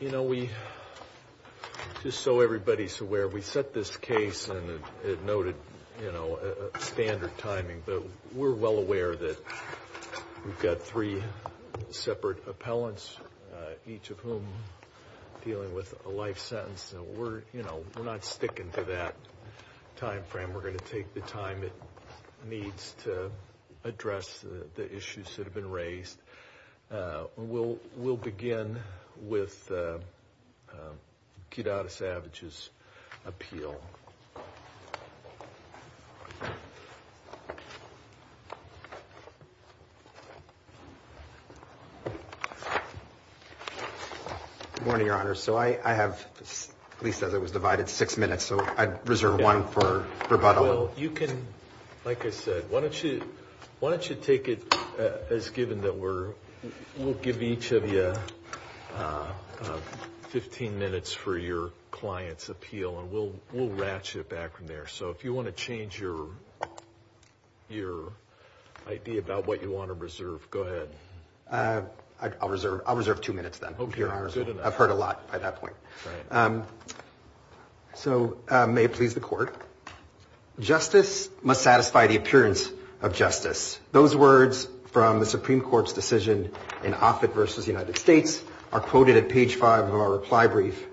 You know, we, just so everybody's aware, we set this case, and it noted, you know, standard timing, but we're well aware that we've got three separate appellants, each of whom dealing with a life sentence, and we're, you know, we're not sticking to that time frame, we're going to take the time that needs to address the issues that have been raised. We'll begin with Kit Al Savage's appeal. Good morning, Your Honor. So I have, at least as it was divided, six minutes, so I reserve one for rebuttal. Well, you can, like I said, why don't you take it as given that we'll give each of you 15 minutes for your client's appeal, and we'll ratchet back from there. So if you want to change your idea about what you want to reserve, go ahead. I'll reserve two minutes then. Okay. I've heard a lot by that point. So may it please the Court. Justice must satisfy the appearance of justice. Those words from the Supreme Court's decision in Offit v. United States are quoted at page five of our reply brief,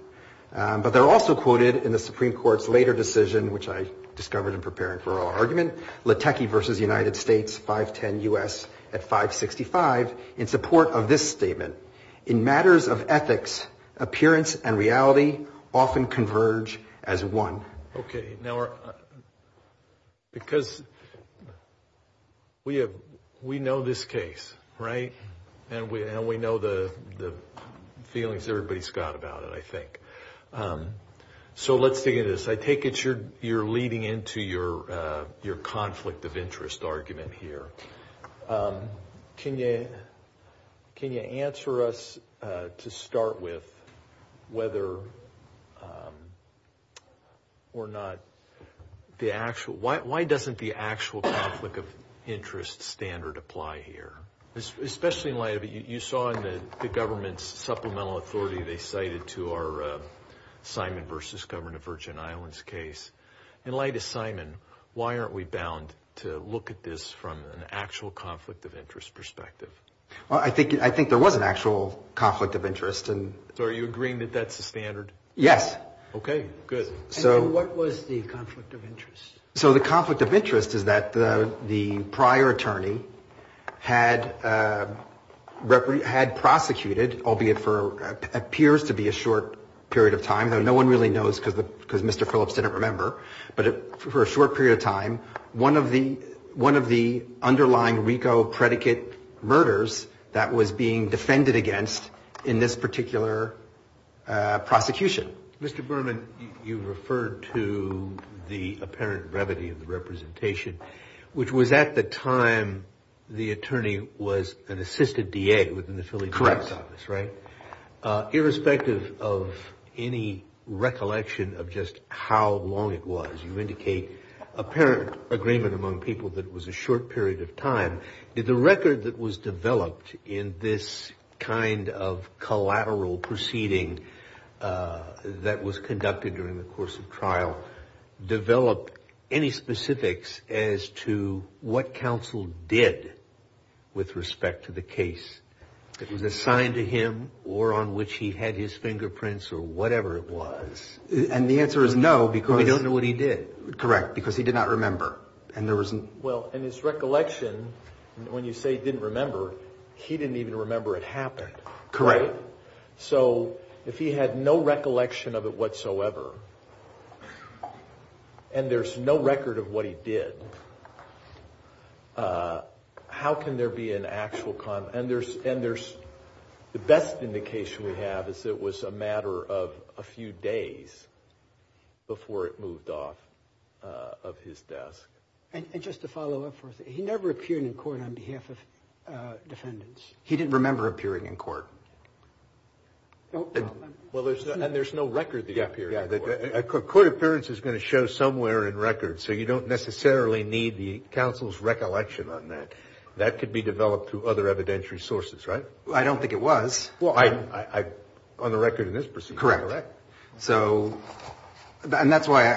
but they're also quoted in the Supreme Court's later decision, which I discovered in preparing for our argument, Latecky v. United States, 510 U.S., at 565, in support of this statement. In matters of ethics, appearance and reality often converge as one. Okay. Now, because we know this case, right? And we know the feelings everybody's got about it, I think. So let's figure this. I take it you're leading into your conflict of interest argument here. Can you answer us to start with whether or not the actual – why doesn't the actual conflict of interest standard apply here? Especially in light of – you saw in the government's supplemental authority they cited to our Simon v. Governor of Virgin Islands case. In light of Simon, why aren't we bound to look at this from an actual conflict of interest perspective? I think there was an actual conflict of interest. So are you agreeing that that's the standard? Yes. Okay, good. What was the conflict of interest? So the conflict of interest is that the prior attorney had prosecuted, albeit for what appears to be a short period of time, though no one really knows because Mr. Phillips didn't remember, but for a short period of time, one of the underlying RICO predicate murders that was being defended against in this particular prosecution. Mr. Berman, you referred to the apparent brevity of the representation, which was at the time the attorney was an assisted DA within the Philly District Office, right? Correct. Irrespective of any recollection of just how long it was, you indicate apparent agreement among people that it was a short period of time. Did the record that was developed in this kind of collateral proceeding that was conducted during the course of trial develop any specifics as to what counsel did with respect to the case that was assigned to him or on which he had his fingerprints or whatever it was? And the answer is no. We don't know what he did. Correct, because he did not remember. Well, in his recollection, when you say he didn't remember, he didn't even remember it happened. Correct. So if he had no recollection of it whatsoever, and there's no record of what he did, how can there be an actual – and the best indication we have is it was a matter of a few days before it moved off of his desk. And just to follow up, he never appeared in court on behalf of defendants. He didn't remember appearing in court. A court appearance is going to show somewhere in record, so you don't necessarily need the counsel's recollection on that. That could be developed to other evidentiary sources, right? I don't think it was. Well, on the record in this proceeding. Correct. So – and that's why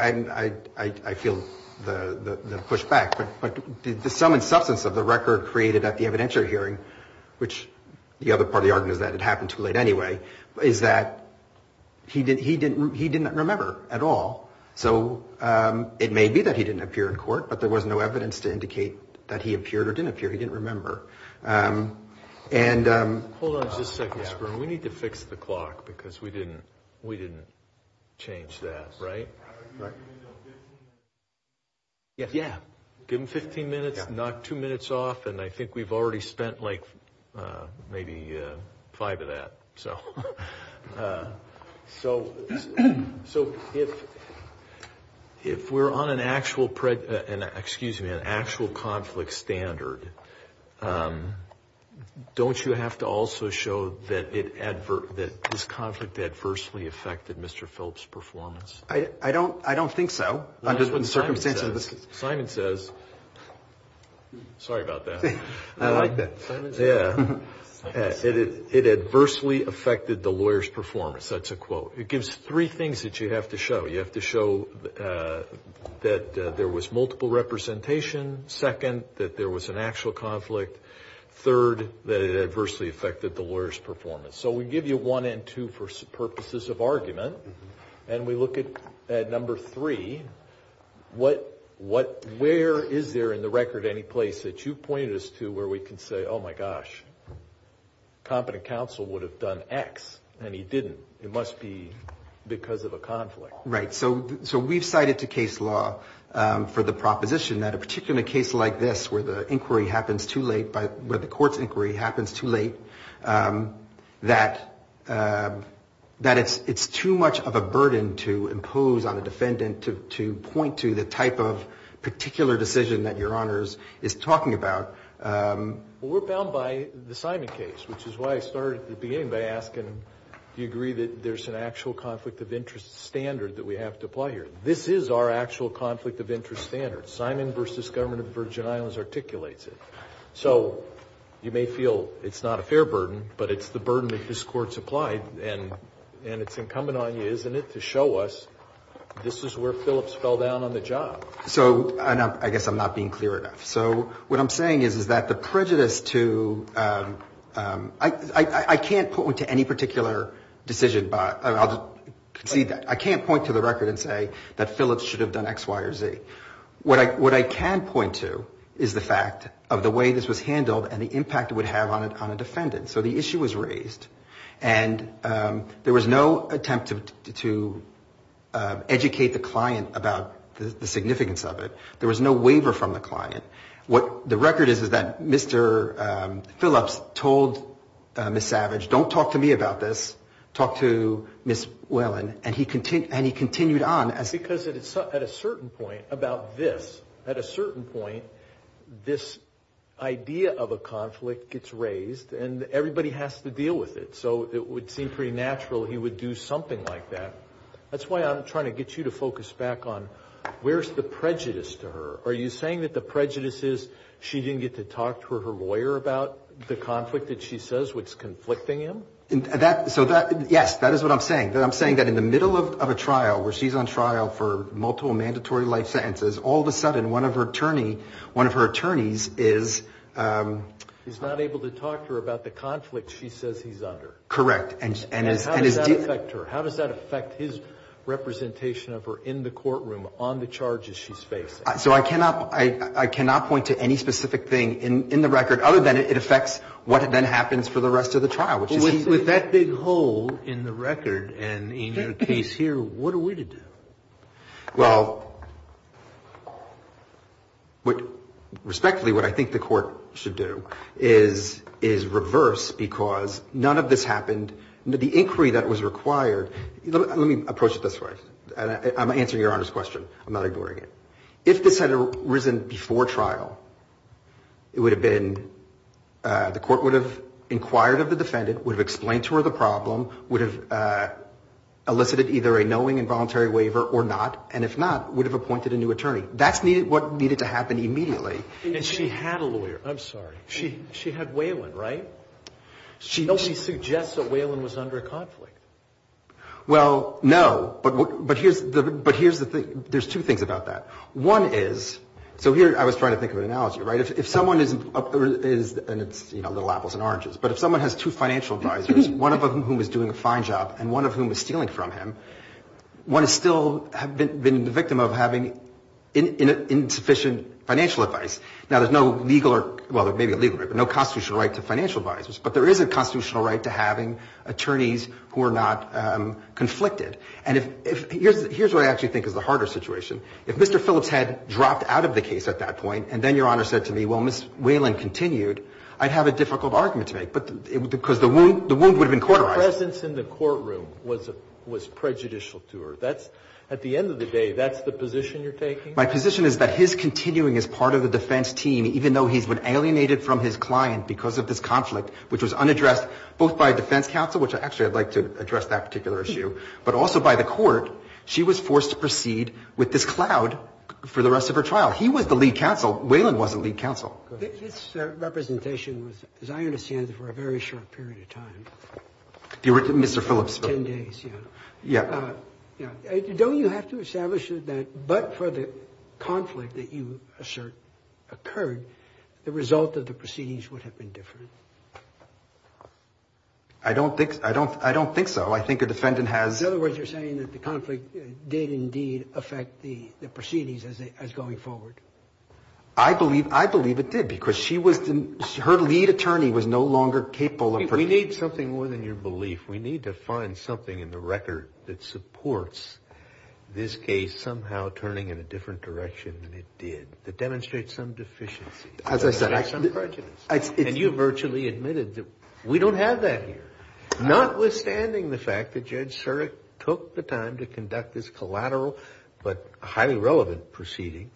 I feel the pushback. But the sum and substance of the record created at the evidentiary hearing, which the other part of the argument is that it happened too late anyway, is that he didn't remember at all. So it may be that he didn't appear in court, but there was no evidence to indicate that he appeared or didn't appear. He didn't remember. Hold on just a second, Sperm. We need to fix the clock because we didn't change that, right? Right. Yeah. Give him 15 minutes, knock two minutes off, and I think we've already spent like maybe five of that. So if we're on an actual conflict standard, don't you have to also show that this conflict adversely affected Mr. Phillips' performance? I don't think so. Simon says – sorry about that. I like that. Yeah. It adversely affected the lawyer's performance. That's a quote. It gives three things that you have to show. You have to show that there was multiple representation, second, that there was an actual conflict, third, that it adversely affected the lawyer's performance. So we give you one and two for purposes of argument, and we look at number three. Where is there in the record any place that you point us to where we can say, oh, my gosh, competent counsel would have done X and he didn't? It must be because of a conflict. Right. So we've cited the case law for the proposition that a particular case like this where the inquiry happens too late, where the court's inquiry happens too late, that it's too much of a burden to impose on a defendant to point to the type of particular decision that Your Honors is talking about. Well, we're bound by the Simon case, which is why I started at the beginning by asking, do you agree that there's an actual conflict of interest standard that we have to apply here? This is our actual conflict of interest standard. Simon v. Government of the Virgin Islands articulates it. So you may feel it's not a fair burden, but it's the burden that this court's applied, and it's incumbent on you, isn't it, to show us this is where Phillips fell down on the job. So – and I guess I'm not being clear enough. So what I'm saying is that the prejudice to – I can't point to any particular decision – I can't point to the record and say that Phillips should have done X, Y, or Z. What I can point to is the fact of the way this was handled and the impact it would have on a defendant. So the issue was raised, and there was no attempt to educate the client about the significance of it. There was no waiver from the client. What the record is is that Mr. Phillips told Ms. Savage, don't talk to me about this, talk to Ms. Whelan, and he continued on. Because at a certain point about this, at a certain point, this idea of a conflict gets raised, and everybody has to deal with it. So it would seem pretty natural he would do something like that. That's why I'm trying to get you to focus back on where's the prejudice to her? Are you saying that the prejudice is she didn't get to talk to her lawyer about the conflict that she says was conflicting him? So that – yes, that is what I'm saying. I'm saying that in the middle of a trial where she's on trial for multiple mandatory life sentences, all of a sudden one of her attorneys is – Is not able to talk to her about the conflict she says he's under. Correct. And how does that affect her? How does that affect his representation of her in the courtroom on the charges she's facing? So I cannot point to any specific thing in the record other than it affects what then happens for the rest of the trial. With that big hole in the record and in your case here, what are we to do? Well, respectfully, what I think the court should do is reverse because none of this happened. The inquiry that was required – let me approach it this way. I'm answering Your Honor's question. I'm not ignoring it. If this had arisen before trial, it would have been – the court would have inquired of the defendant, would have explained to her the problem, would have elicited either a knowing involuntary waiver or not, and if not, would have appointed a new attorney. That's what needed to happen immediately. And she had a lawyer. I'm sorry. She had Whelan, right? So she suggests that Whelan was under conflict. Well, no, but here's the thing. There's two things about that. One is – so here I was trying to think of an analogy, right? If someone is – and it's, you know, little apples and oranges – but if someone has two financial advisors, one of whom is doing a fine job and one of whom is stealing from him, one is still the victim of having insufficient financial advice. Now, there's no legal – well, maybe a legal – no constitutional right to financial advisors, but there is a constitutional right to having attorneys who are not conflicted. And here's what I actually think is the harder situation. If Mr. Phillips had dropped out of the case at that point and then Your Honor said to me, well, Ms. Whelan continued, I'd have a difficult argument to make because the wound would have been cauterized. Her presence in the courtroom was prejudicial to her. At the end of the day, that's the position you're taking? My position is that his continuing as part of the defense team, even though he's been alienated from his client because of this conflict, which was unaddressed both by a defense counsel – which, actually, I'd like to address that particular issue – but also by the court, she was forced to proceed with this cloud for the rest of her trial. He was the lead counsel. Whelan was the lead counsel. This representation was, as I understand it, for a very short period of time. Mr. Phillips. Ten days, yeah. Don't you have to establish that but for the conflict that you assert occurred, the result of the proceedings would have been different? I don't think so. Well, I think the defendant has – In other words, you're saying that the conflict did indeed affect the proceedings as going forward. I believe it did because her lead attorney was no longer capable of – We need something more than your belief. We need to find something in the record that supports this case somehow turning in a different direction than it did, that demonstrates some deficiency. As I said, I – And you virtually admitted that we don't have that here. Notwithstanding the fact that Judge Surek took the time to conduct this collateral but highly relevant proceeding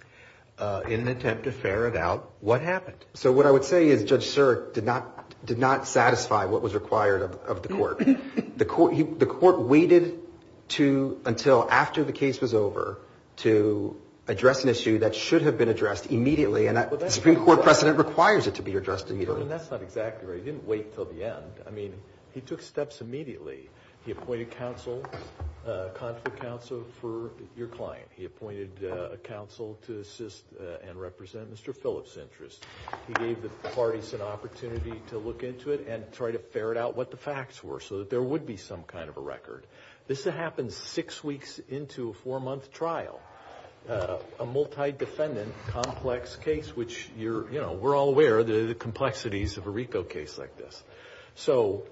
in an attempt to ferret out what happened. So what I would say is Judge Surek did not satisfy what was required of the court. The court waited until after the case was over to address an issue that should have been addressed immediately, and the Supreme Court precedent requires it to be addressed immediately. That's not exactly right. He didn't wait until the end. I mean, he took steps immediately. He appointed counsel, conflict counsel, for your client. He appointed a counsel to assist and represent Mr. Phillips' interests. He gave the parties an opportunity to look into it and try to ferret out what the facts were so that there would be some kind of a record. This happened six weeks into a four-month trial, a multi-defendant complex case, which you're – you know, we're all aware of the complexities of a RICO case like this. So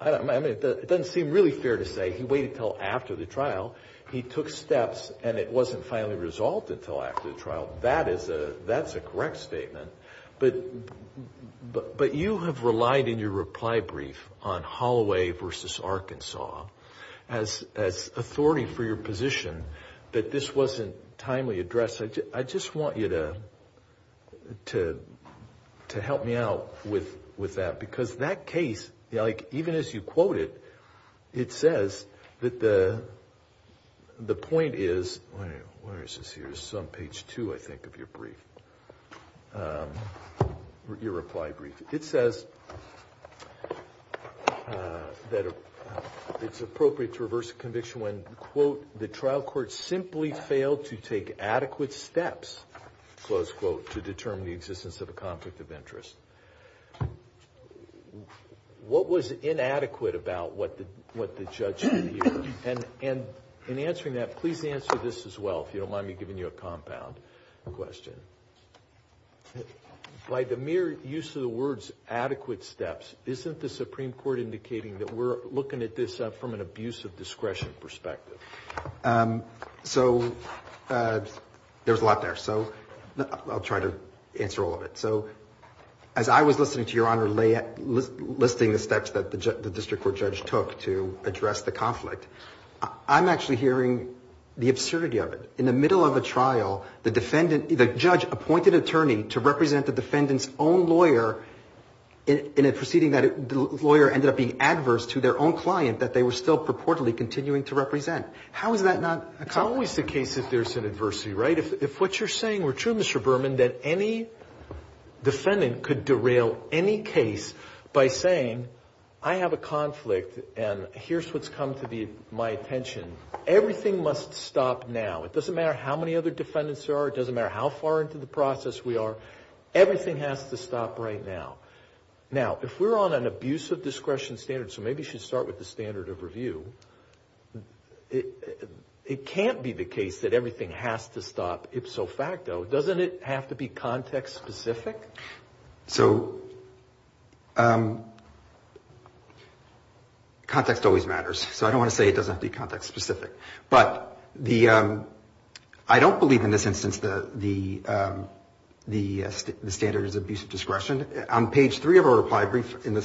I mean, it doesn't seem really fair to say he waited until after the trial. He took steps, and it wasn't finally resolved until after the trial. That is a – that's a correct statement. But you have relied in your reply brief on Holloway v. Arkansas as authority for your position that this wasn't timely addressed. I just want you to help me out with that because that case, like, even as you quote it, it says that the point is – where is this here? It's on page two, I think, of your brief, your reply brief. It says that it's appropriate to reverse a conviction when, quote, close quote, to determine the existence of a conflict of interest. What was inadequate about what the judge did here? And in answering that, please answer this as well, if you don't mind me giving you a compound question. By the mere use of the words adequate steps, isn't the Supreme Court indicating that we're looking at this from an abuse of discretion perspective? So there's a lot there, so I'll try to answer all of it. So as I was listening to Your Honor listing the steps that the district court judge took to address the conflict, I'm actually hearing the absurdity of it. In the middle of a trial, the defendant – the judge appointed an attorney to represent the defendant's own lawyer in a proceeding that the lawyer ended up being adverse to their own client that they were still purportedly continuing to represent. How is that not a conflict? It's not always the case that there's an adversity, right? If what you're saying were true, Mr. Berman, that any defendant could derail any case by saying, I have a conflict and here's what's come to be my attention, everything must stop now. It doesn't matter how many other defendants there are. It doesn't matter how far into the process we are. Everything has to stop right now. Now, if we're on an abuse of discretion standard, so maybe we should start with the standard of review, it can't be the case that everything has to stop ipso facto. Doesn't it have to be context specific? So context always matters, so I don't want to say it doesn't have to be context specific. But I don't believe in this instance the standard is abuse of discretion. On page three of our reply brief, in the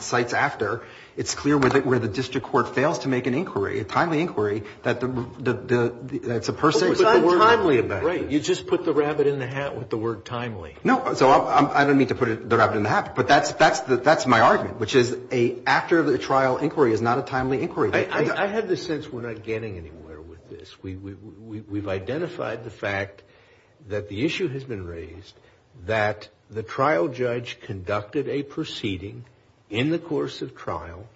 sites after, it's clear where the district court fails to make an inquiry, a timely inquiry, that the person… It's untimely. You just put the rabbit in the hat with the word timely. No, I don't mean to put the rabbit in the hat, but that's my argument, which is an after-trial inquiry is not a timely inquiry. I have the sense we're not getting anywhere with this. We've identified the fact that the issue has been raised, that the trial judge conducted a proceeding in the course of trial,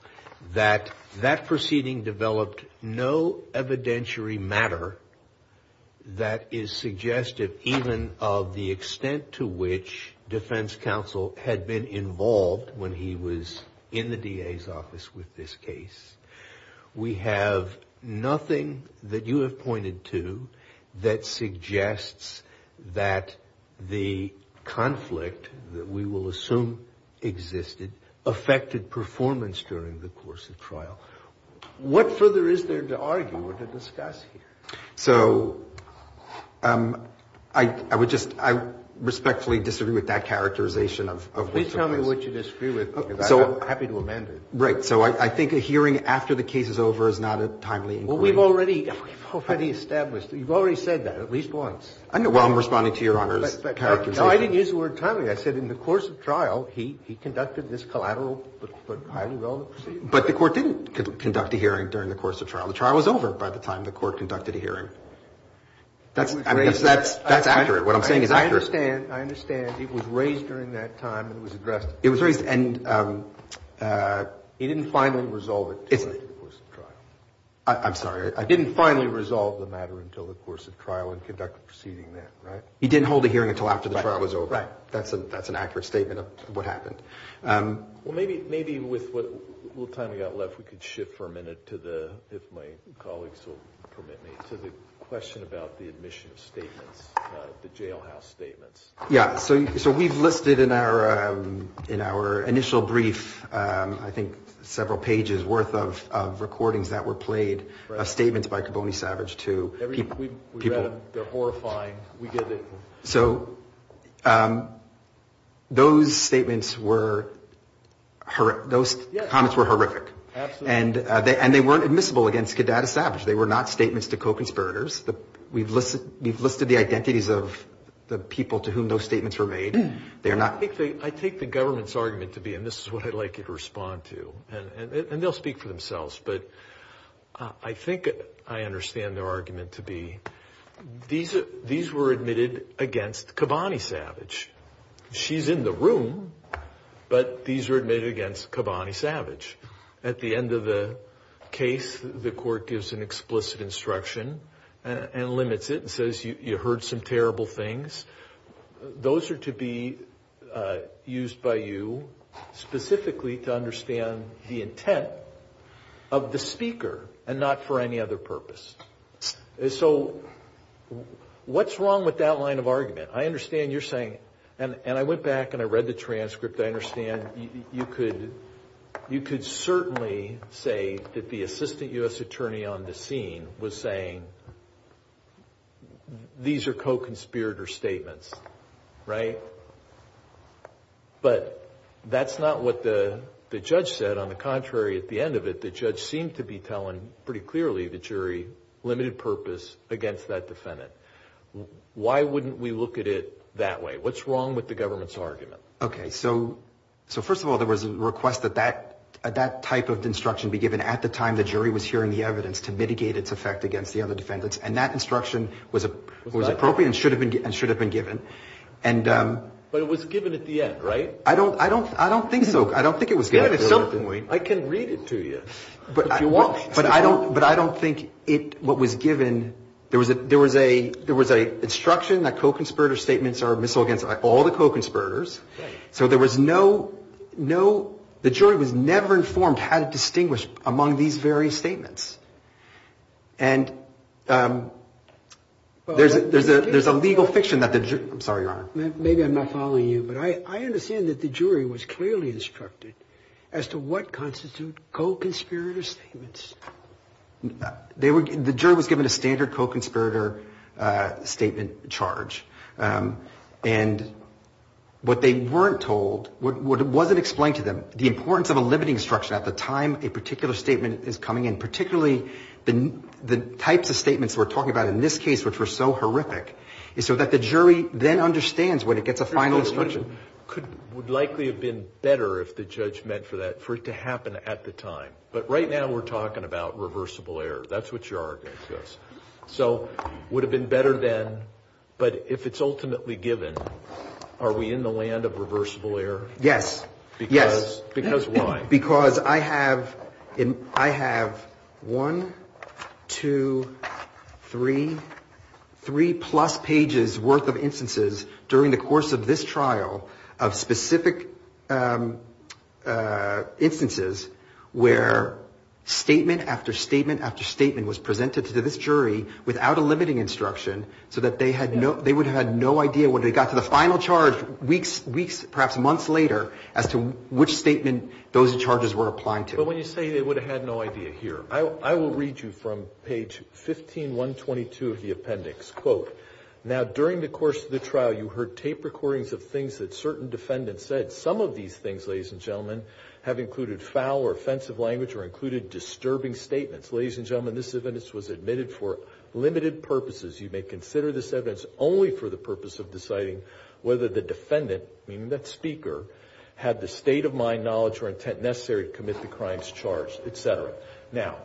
that that proceeding developed no evidentiary matter that is suggestive even of the extent to which defense counsel had been involved when he was in the DA's office with this case. We have nothing that you have pointed to that suggests that the conflict that we will assume existed affected performance during the course of trial. What further is there to argue or to discuss here? So I respectfully disagree with that characterization of the… Please tell me what you disagree with. I'm happy to amend it. Right, so I think a hearing after the case is over is not a timely inquiry. Well, we've already established, you've already said that at least once. Well, I'm responding to Your Honor's characterization. No, I didn't use the word timely. I said in the course of trial, he conducted this collateral… But the court didn't conduct a hearing during the course of trial. The trial was over by the time the court conducted a hearing. That's accurate. What I'm saying is accurate. I understand. I understand. It was raised during that time. It was addressed. It was raised and he didn't finally resolve it during the course of trial. I'm sorry. I didn't finally resolve the matter until the course of trial and conducted the proceeding then, right? He didn't hold a hearing until after the trial was over. That's an accurate statement of what happened. Well, maybe with what time we've got left, we could shift for a minute to the, if my colleagues will permit me, to the question about the admission of statements, the jailhouse statements. Yeah. So we've listed in our initial brief, I think several pages worth of recordings that were played, statements by Caboni Savage to people. They're horrifying. We did it. So those statements were, those comments were horrific. Absolutely. And they weren't admissible against Cadet Savage. They were not statements to co-conspirators. We've listed the identities of the people to whom those statements were made. I take the government's argument to be, and this is what I'd like you to respond to, and they'll speak for themselves, but I think I understand their argument to be these were admitted against Cabani Savage. She's in the room, but these were admitted against Cabani Savage. At the end of the case, the court gives an explicit instruction and limits it and says you heard some terrible things. Those are to be used by you specifically to understand the intent of the speaker and not for any other purpose. So what's wrong with that line of argument? I understand you're saying, and I went back and I read the transcript. I understand you could certainly say that the assistant U.S. attorney on the scene was saying these are co-conspirator statements, right? But that's not what the judge said. On the contrary, at the end of it, the judge seemed to be telling pretty clearly the jury limited purpose against that defendant. Why wouldn't we look at it that way? What's wrong with the government's argument? Okay. So first of all, there was a request that that type of instruction be given at the time the jury was hearing the evidence to mitigate its effect against the other defendants, and that instruction was appropriate and should have been given. But it was given at the end, right? I don't think so. I don't think it was given at that point. I can read it to you if you want. But I don't think what was given – there was an instruction that co-conspirator statements are admissible against all the co-conspirators. So there was no – the jury was never informed how to distinguish among these very statements. And there's a legal fiction that the – I'm sorry, Your Honor. Maybe I'm not following you, but I understand that the jury was clearly instructed as to what constitutes co-conspirator statements. The jury was given a standard co-conspirator statement charge. And what they weren't told – what wasn't explained to them, the importance of a limiting instruction at the time a particular statement is coming in, particularly the types of statements we're talking about in this case, which were so horrific, is so that the jury then understands when it gets a final instruction. It would likely have been better if the judge meant for that for it to happen at the time. But right now we're talking about reversible error. That's what your argument says. So it would have been better then, but if it's ultimately given, are we in the land of reversible error? Yes. Because why? Because I have one, two, three, three-plus pages' worth of instances during the course of this trial of specific instances where statement after statement after statement was presented to this jury without a limiting instruction so that they would have had no idea when it got to the final charge weeks, perhaps months later, as to which statement those charges were applying to. But when you say they would have had no idea here, I will read you from page 15-122 of the appendix. Quote, now during the course of the trial you heard tape recordings of things that certain defendants said. Some of these things, ladies and gentlemen, have included foul or offensive language or included disturbing statements. Ladies and gentlemen, this evidence was admitted for limited purposes. You may consider this evidence only for the purpose of deciding whether the defendant, meaning the speaker, had the state of mind, knowledge, or intent necessary to commit the crimes charged, et cetera. Now,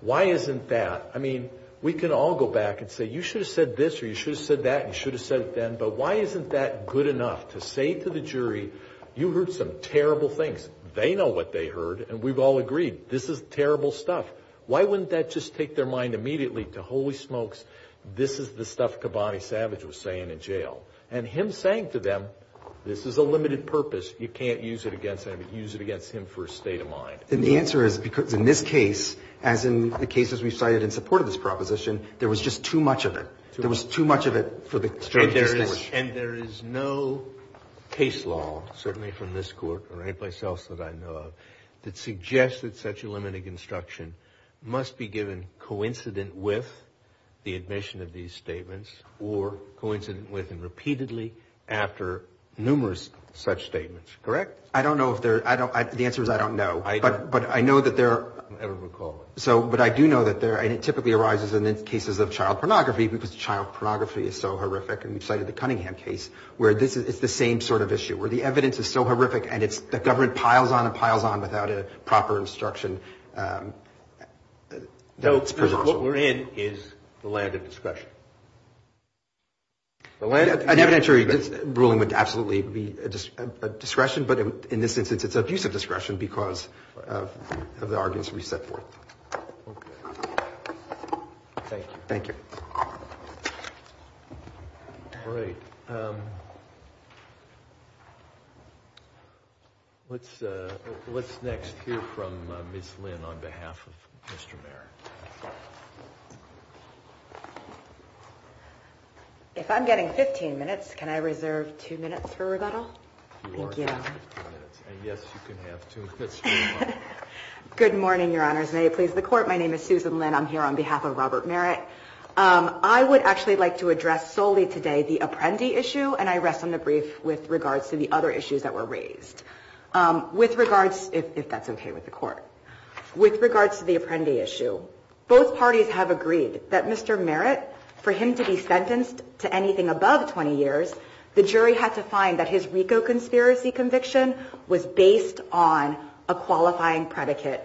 why isn't that? I mean, we can all go back and say you should have said this or you should have said that and you should have said it then, but why isn't that good enough to say to the jury you heard some terrible things? They know what they heard and we've all agreed this is terrible stuff. Why wouldn't that just take their mind immediately to, holy smokes, this is the stuff Kabbadi Savage was saying in jail. And him saying to them, this is a limited purpose, you can't use it against him for a state of mind. And the answer is, in this case, as in the cases we've cited in support of this proposition, there was just too much of it. There was too much of it for the stranger to watch. And there is no case law, certainly from this court or any place else that I know of, that suggests that such a limited construction must be given coincident with the admission of these statements or coincident with and repeatedly after numerous such statements, correct? I don't know if there, the answer is I don't know. But I know that there are, I don't recall, but I do know that there, and it typically arises in the cases of child pornography because child pornography is so horrific, and we've cited the Cunningham case, where it's the same sort of issue, where the evidence is so horrific and the government piles on and piles on without a proper instruction. What we're in is the land of discretion. I'm not sure this ruling would absolutely be a discretion, but in this instance it's of use of discretion because of the arguments we set forth. Thank you. Great. Let's next hear from Ms. Lynn on behalf of Mr. Merritt. If I'm getting 15 minutes, can I reserve two minutes for rebuttal? You are getting 15 minutes, and yes, you can have two minutes. Good morning, Your Honors. May it please the Court. My name is Susan Lynn. I'm here on behalf of Robert Merritt. I would actually like to address solely today the Apprendi issue, and I rest on the brief with regards to the other issues that were raised. With regards, if that's okay with the Court. With regards to the Apprendi issue, both parties have agreed that Mr. Merritt, for him to be sentenced to anything above 20 years, the jury had to find that his RICO conspiracy conviction was based on a qualifying predicate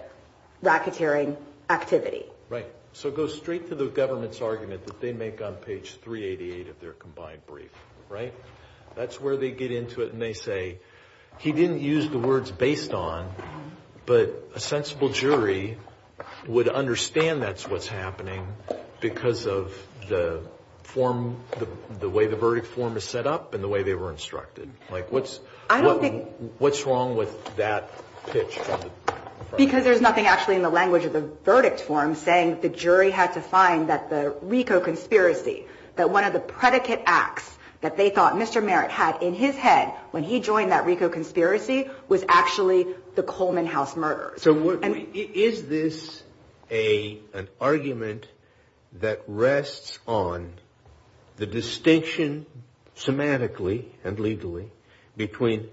racketeering activity. Right. So it goes straight to the government's argument that they make on page 388 of their combined brief, right? That's where they get into it and they say, he didn't use the words based on, but a sensible jury would understand that's what's happening because of the form, the way the verdict form is set up and the way they were instructed. What's wrong with that pitch? Because there's nothing actually in the language of the verdict form saying the jury had to find that the RICO conspiracy, that one of the predicate acts that they thought Mr. Merritt had in his head when he joined that RICO conspiracy, was actually the Coleman House murder. Is this an argument that rests on the distinction semantically and legally between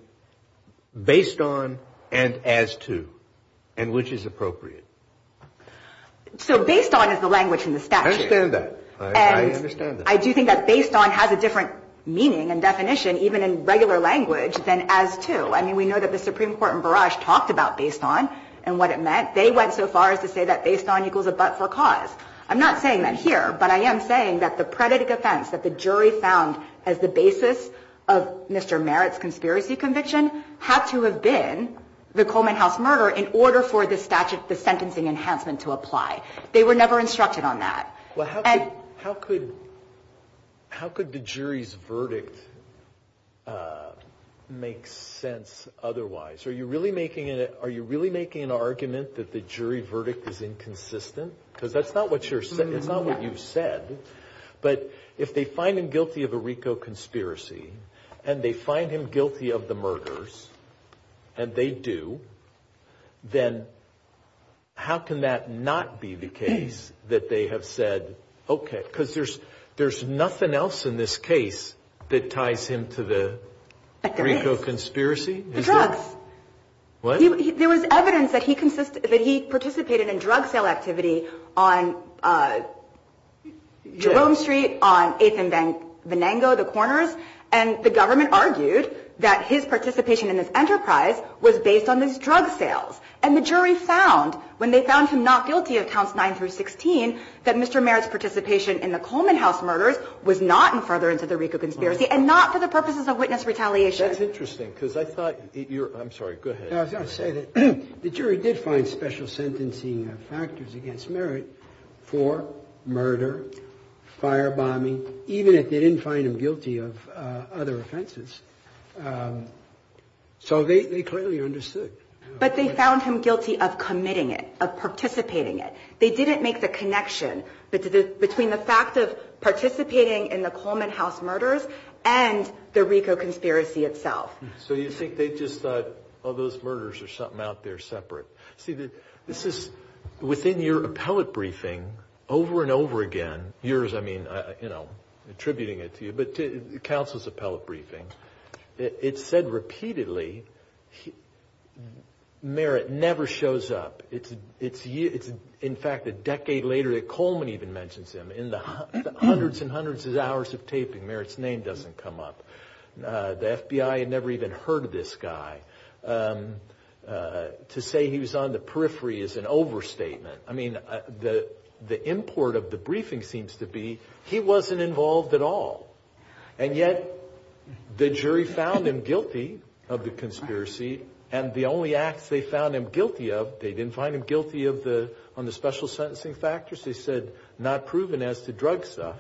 based on and as to and which is appropriate? So based on is the language in the statute. I understand that. I understand that. I do think that based on has a different meaning and definition even in regular language than as to. I mean, we know that the Supreme Court in Barrage talked about based on and what it meant. They went so far as to say that based on equals a but for cause. I'm not saying that here, but I am saying that the predicate offense that the jury found as the basis of Mr. Merritt's conspiracy conviction had to have been the Coleman House murder in order for the statute, the sentencing enhancement to apply. They were never instructed on that. Well, how could the jury's verdict make sense otherwise? Are you really making an argument that the jury verdict is inconsistent? Because that's not what you said. But if they find him guilty of a RICO conspiracy and they find him guilty of the murders, and they do, then how can that not be the case that they have said, okay, because there's nothing else in this case that ties him to the RICO conspiracy? The drugs. What? There was evidence that he participated in drug sale activity on Jerome Street, on 8th and Venango, the corners, and the government argued that his participation in this enterprise was based on these drug sales. And the jury found, when they found him not guilty of counts 9 through 16, that Mr. Merritt's participation in the Coleman House murders was not in furtherance of the RICO conspiracy and not for the purposes of witness retaliation. That's interesting because I thought, I'm sorry, go ahead. I was going to say that the jury did find special sentencing factors against Merritt for murder, firebombing, even if they didn't find him guilty of other offenses. So they clearly understood. But they found him guilty of committing it, of participating it. They didn't make the connection between the fact of participating in the Coleman House murders and the RICO conspiracy itself. So you think they just thought, oh, those murders are something out there separate. Within your appellate briefing, over and over again, yours, I mean, attributing it to you, but counsel's appellate briefing, it said repeatedly Merritt never shows up. In fact, a decade later, Coleman even mentions him. In the hundreds and hundreds of hours of taping, Merritt's name doesn't come up. The FBI had never even heard of this guy. To say he was on the periphery is an overstatement. I mean, the import of the briefing seems to be he wasn't involved at all. And yet the jury found him guilty of the conspiracy, and the only acts they found him guilty of, they didn't find him guilty on the special sentencing factors. They said not proven as to drug stuff.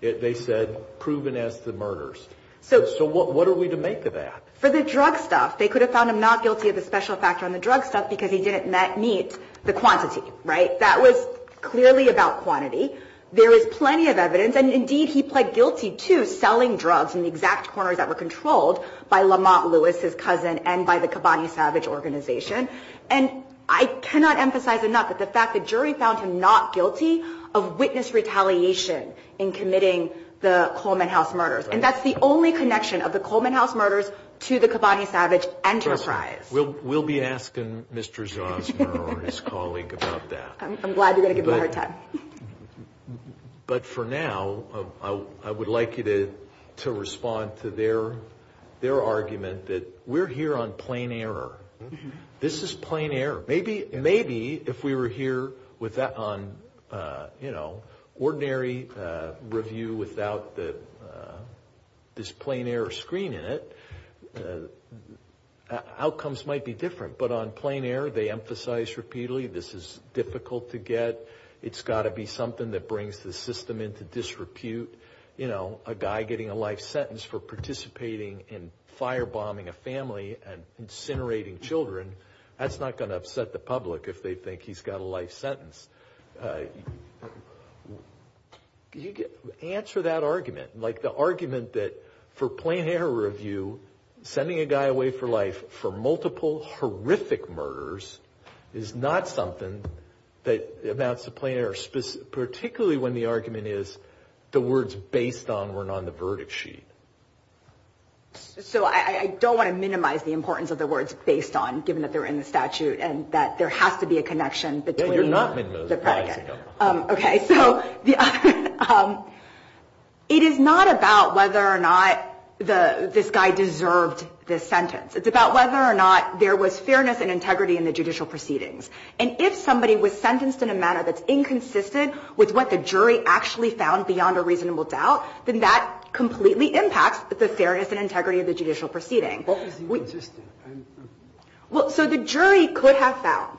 They said proven as to murders. So what are we to make of that? For the drug stuff, they could have found him not guilty of the special factor on the drug stuff because he didn't meet the quantity, right? That was clearly about quantity. There is plenty of evidence, and indeed he pled guilty to selling drugs in the exact corners that were controlled by Lamont Lewis, his cousin, and by the Kabani Savage organization. And I cannot emphasize enough the fact the jury found him not guilty of witness retaliation in committing the Coleman House murders. And that's the only connection of the Coleman House murders to the Kabani Savage enterprise. We'll be asking Mr. Johnson or his colleague about that. I'm glad you're going to give me a hard time. But for now, I would like you to respond to their argument that we're here on plain error. This is plain error. Maybe if we were here on ordinary review without this plain error screen in it, outcomes might be different. But on plain error, they emphasize repeatedly this is difficult to get. It's got to be something that brings the system into disrepute. A guy getting a life sentence for participating in firebombing a family and incinerating children, that's not going to upset the public if they think he's got a life sentence. Answer that argument, like the argument that for plain error review, sending a guy away for life for multiple horrific murders is not something that amounts to plain error, particularly when the argument is the words based on weren't on the verdict sheet. So I don't want to minimize the importance of the words based on, given that they're in the statute, and that there has to be a connection between the predicates. Okay, so it is not about whether or not this guy deserved this sentence. It's about whether or not there was fairness and integrity in the judicial proceedings. And if somebody was sentenced in a manner that's inconsistent with what the jury actually found beyond a reasonable doubt, then that completely impacts the fairness and integrity of the judicial proceedings. So the jury could have found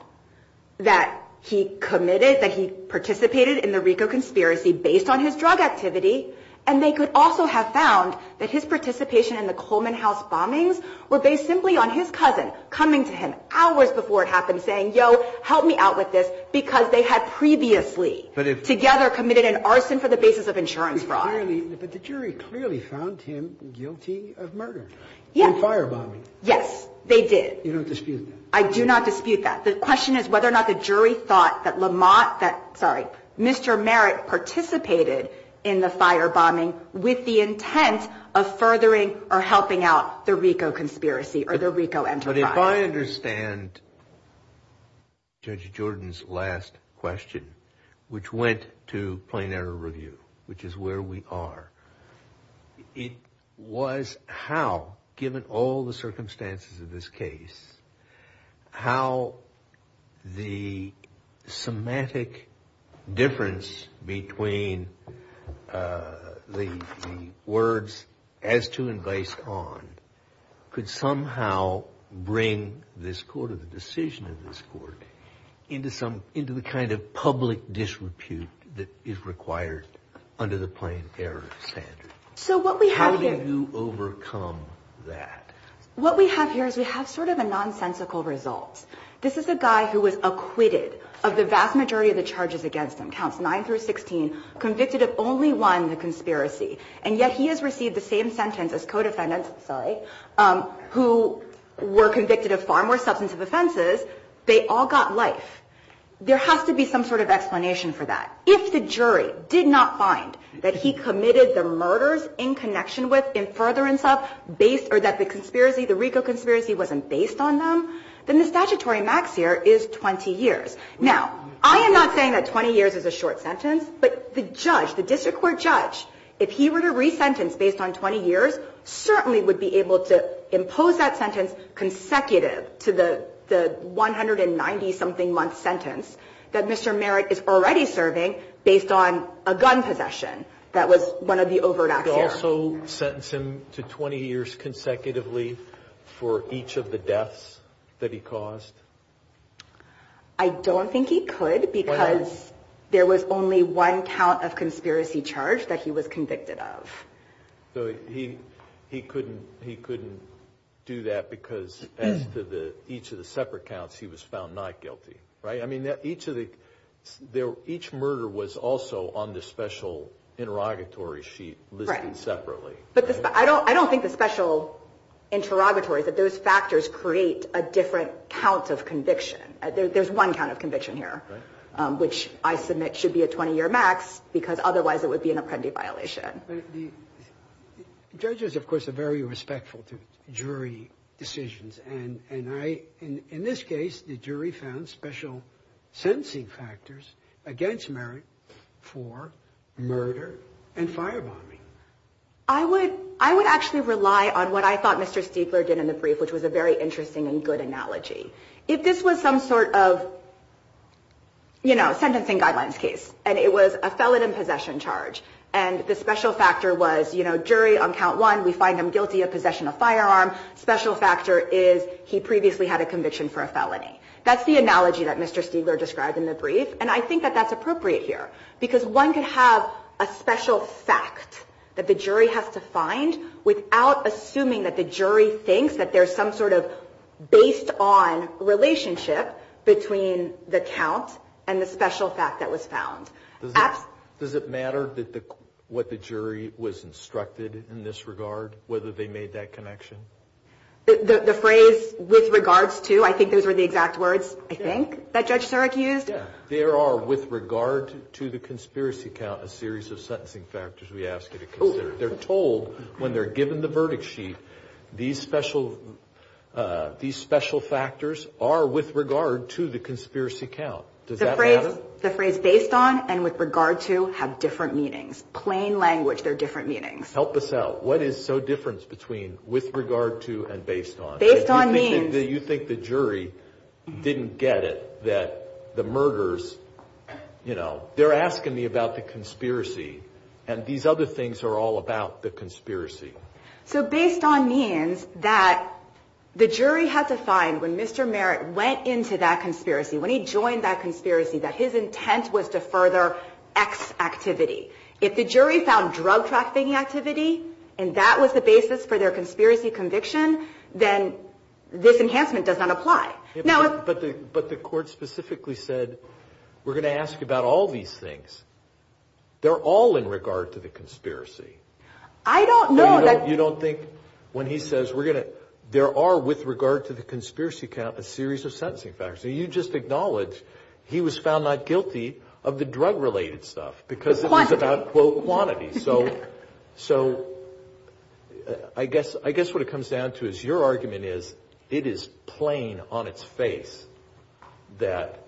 that he committed, that he participated in the RICO conspiracy based on his drug activity, and they could also have found that his participation in the Coleman House bombings were based simply on his cousin coming to him hours before it happened saying, yo, help me out with this, because they had previously together committed an arson for the basis of insurance fraud. But the jury clearly found him guilty of murder in a firebombing. Yes, they did. You don't dispute that? I do not dispute that. The question is whether or not the jury thought that Mr. Merritt participated in the firebombing with the intent of furthering or helping out the RICO conspiracy or the RICO enterprise. But if I understand Judge Jordan's last question, which went to plain error review, which is where we are, it was how, given all the circumstances of this case, how the semantic difference between the words, as to and based on, could somehow bring this court, or the decision of this court, into the kind of public disrepute that is required under the plain error standard. How did you overcome that? What we have here is we have sort of a nonsensical result. This is a guy who was acquitted of the vast majority of the charges against him, counts 9 through 16, convicted of only one conspiracy, and yet he has received the same sentence as co-defendants, who were convicted of far more substantive offenses. They all got life. There has to be some sort of explanation for that. If the jury did not find that he committed the murders in connection with, or that the RICO conspiracy wasn't based on them, then the statutory max here is 20 years. Now, I am not saying that 20 years is a short sentence, but the judge, the district court judge, if he were to re-sentence based on 20 years, certainly would be able to impose that sentence consecutive to the 190-something month sentence that Mr. Merritt is already serving based on a gun possession that was one of the overt actions. Could he also sentence him to 20 years consecutively for each of the deaths that he caused? I don't think he could because there was only one count of conspiracy charge that he was convicted of. So he couldn't do that because, as to each of the separate counts, he was found not guilty, right? I mean, each murder was also on the special interrogatory sheet listed separately. But I don't think the special interrogatory, that those factors create a different count of conviction. There's one count of conviction here, which I submit should be a 20-year max, because otherwise it would be an apprendee violation. The judges, of course, are very respectful to jury decisions. In this case, the jury found special sentencing factors against Merritt for murder and firebombing. I would actually rely on what I thought Mr. Stiegler did in the brief, which was a very interesting and good analogy. If this was some sort of sentencing guidelines case, and it was a felon in possession charge, and the special factor was jury on count one, we find him guilty of possession of firearms. Special factor is he previously had a conviction for a felony. That's the analogy that Mr. Stiegler described in the brief, and I think that that's appropriate here, because one can have a special fact that the jury has to find without assuming that the jury thinks that there's some sort of based-on relationship between the count and the special fact that was found. Does it matter what the jury was instructed in this regard, whether they made that connection? The phrase, with regards to, I think those were the exact words, I think, that Judge Sirak used? Yes. There are, with regard to the conspiracy count, a series of sentencing factors we ask you to consider. They're told, when they're given the verdict sheet, these special factors are with regard to the conspiracy count. Does that matter? The phrase based-on and with regard to have different meanings. Plain language, they're different meanings. Help us out. What is so different between with regard to and based-on? Based-on means... Do you think the jury didn't get it, that the murders, you know, they're asking me about the conspiracy, and these other things are all about the conspiracy? So based-on means that the jury has assigned, when Mr. Merritt went into that conspiracy, when he joined that conspiracy, that his intent was to further X activity. If the jury found drug trafficking activity, and that was the basis for their conspiracy conviction, then this enhancement does not apply. But the court specifically said, we're going to ask about all these things. They're all in regard to the conspiracy. I don't know that... You don't think, when he says we're going to... There are, with regard to the conspiracy count, a series of sentencing factors. You just acknowledged he was found not guilty of the drug-related stuff. Quantity. Because it's about, quote, quantity. So I guess what it comes down to is, your argument is, it is plain on its face that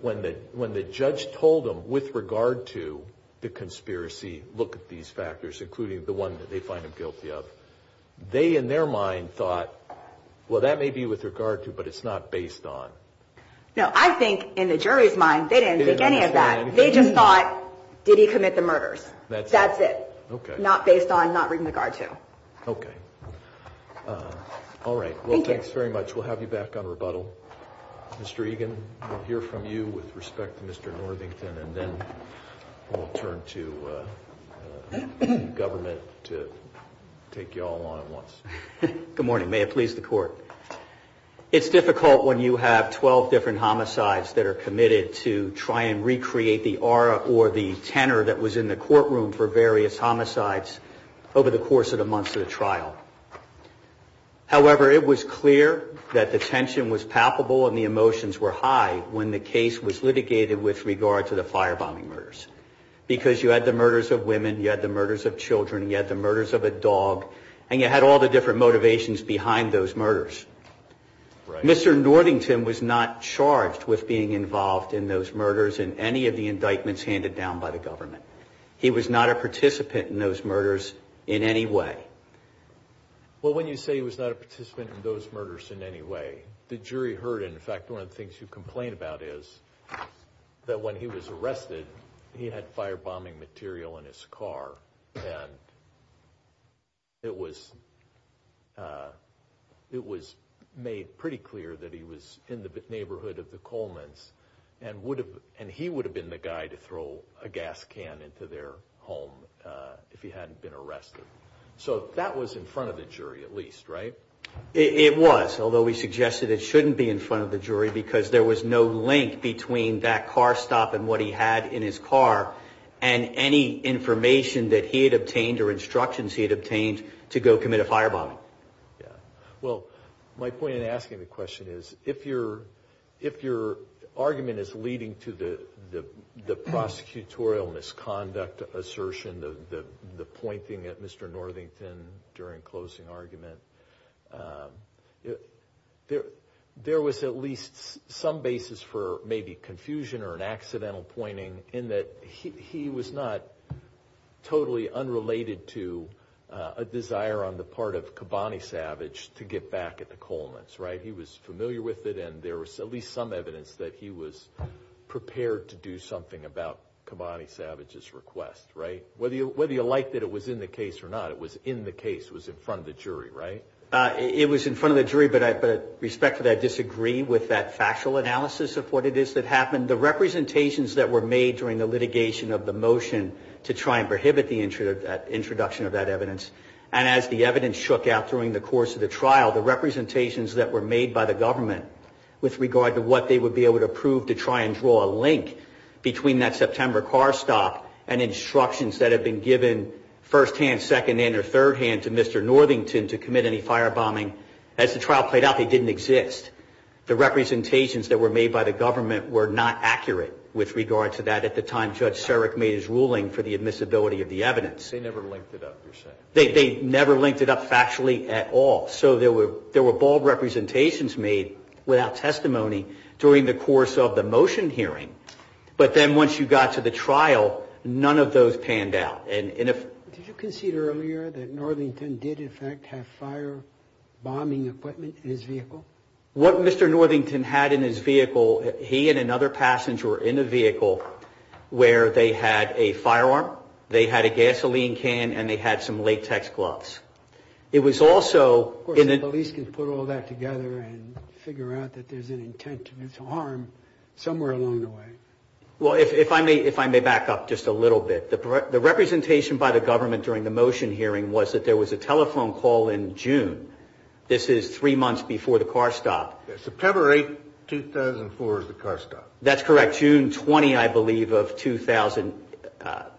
when the judge told him, with regard to the conspiracy, look at these factors, including the one that they find him guilty of, they, in their mind, thought, well, that may be with regard to, but it's not based on. No, I think, in the jury's mind, they didn't think any of that. They just thought, did he commit the murders? That's it. Not based on, not with regard to. Okay. All right. Well, thanks very much. We'll have you back on rebuttal. Mr. Egan, we'll hear from you with respect to Mr. Northington, and then we'll turn to the government to take you all on at once. Good morning. May it please the Court. It's difficult when you have 12 different homicides that are committed to try and recreate the aura or the tenor that was in the courtroom for various homicides over the course of the month of the trial. However, it was clear that the tension was palpable and the emotions were high when the case was litigated with regard to the firebombing murders, because you had the murders of women, you had the murders of children, you had the murders of a dog, and you had all the different motivations behind those murders. Mr. Northington was not charged with being involved in those murders in any of the indictments handed down by the government. He was not a participant in those murders in any way. Well, when you say he was not a participant in those murders in any way, the jury heard him. In fact, one of the things you complain about is that when he was arrested, he had firebombing material in his car, and it was made pretty clear that he was in the neighborhood of the Coleman's, and he would have been the guy to throw a gas can into their home if he hadn't been arrested. So that was in front of the jury at least, right? It was, although we suggested it shouldn't be in front of the jury, because there was no link between that car stop and what he had in his car and any information that he had obtained or instructions he had obtained to go commit a firebombing. Well, my point in asking the question is, if your argument is leading to the prosecutorial misconduct assertion, the pointing at Mr. Northington during closing argument, there was at least some basis for maybe confusion or an accidental pointing in that he was not totally unrelated to a desire on the part of Kobani Savage to get back at the Coleman's, right? He was familiar with it, and there was at least some evidence that he was prepared to do something about Kobani Savage's request, right? Whether you like that it was in the case or not, it was in the case, it was in front of the jury, right? It was in front of the jury, but with respect to that, I disagree with that factual analysis of what it is that happened. The representations that were made during the litigation of the motion to try and prohibit the introduction of that evidence, and as the evidence shook out during the course of the trial, the representations that were made by the government with regard to what they would be able to prove to try and draw a link between that September car stop and instructions that had been given first hand, second hand, or third hand to Mr. Northington to commit any firebombing, as the trial played out, they didn't exist. The representations that were made by the government were not accurate with regard to that at the time Judge Sarek made his ruling for the admissibility of the evidence. They never linked it up, you're saying? They never linked it up factually at all. So there were bald representations made without testimony during the course of the motion hearing, but then once you got to the trial, none of those panned out. Did you consider earlier that Northington did in fact have firebombing equipment in his vehicle? What Mr. Northington had in his vehicle, he and another passenger were in a vehicle where they had a firearm, they had a gasoline can, and they had some latex gloves. Of course, the police can put all that together and figure out that there's an intent to do some harm somewhere along the way. Well, if I may back up just a little bit. The representation by the government during the motion hearing was that there was a telephone call in June. This is three months before the car stop. September 8, 2004 is the car stop. That's correct. June 20, I believe, of 2003-4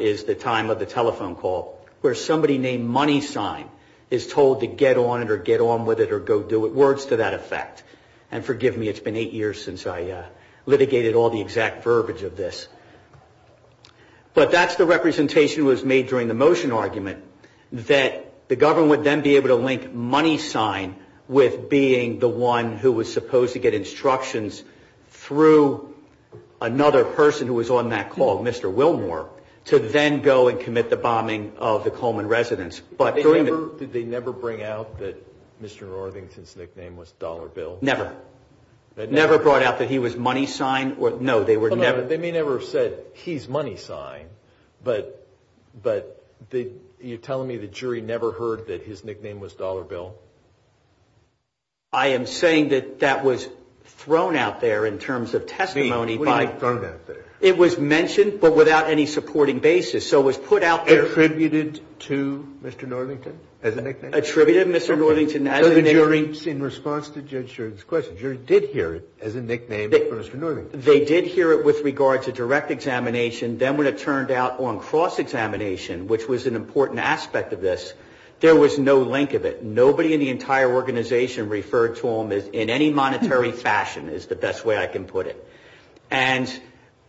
is the time of the telephone call, where somebody named Money Sign is told to get on or get on with it or go do it. Words to that effect. And forgive me, it's been eight years since I litigated all the exact verbiage of this. But that's the representation that was made during the motion argument, that the government would then be able to link Money Sign with being the one who was supposed to get instructions through another person who was on that call, Mr. Wilmore, to then go and commit the bombing of the Coleman residence. Did they never bring out that Mr. Northington's nickname was Dollar Bill? Never. Never brought out that he was Money Sign? They may never have said, he's Money Sign, but you're telling me the jury never heard that his nickname was Dollar Bill? I am saying that that was thrown out there in terms of testimony. It was mentioned, but without any supporting basis. Attributed to Mr. Northington as a nickname? Attributed to Mr. Northington as a nickname. So the jury, in response to Judge Sherman's question, the jury did hear it as a nickname for Mr. Northington. They did hear it with regard to direct examination. Then when it turned out on cross-examination, which was an important aspect of this, there was no link of it. Nobody in the entire organization referred to him in any monetary fashion, is the best way I can put it.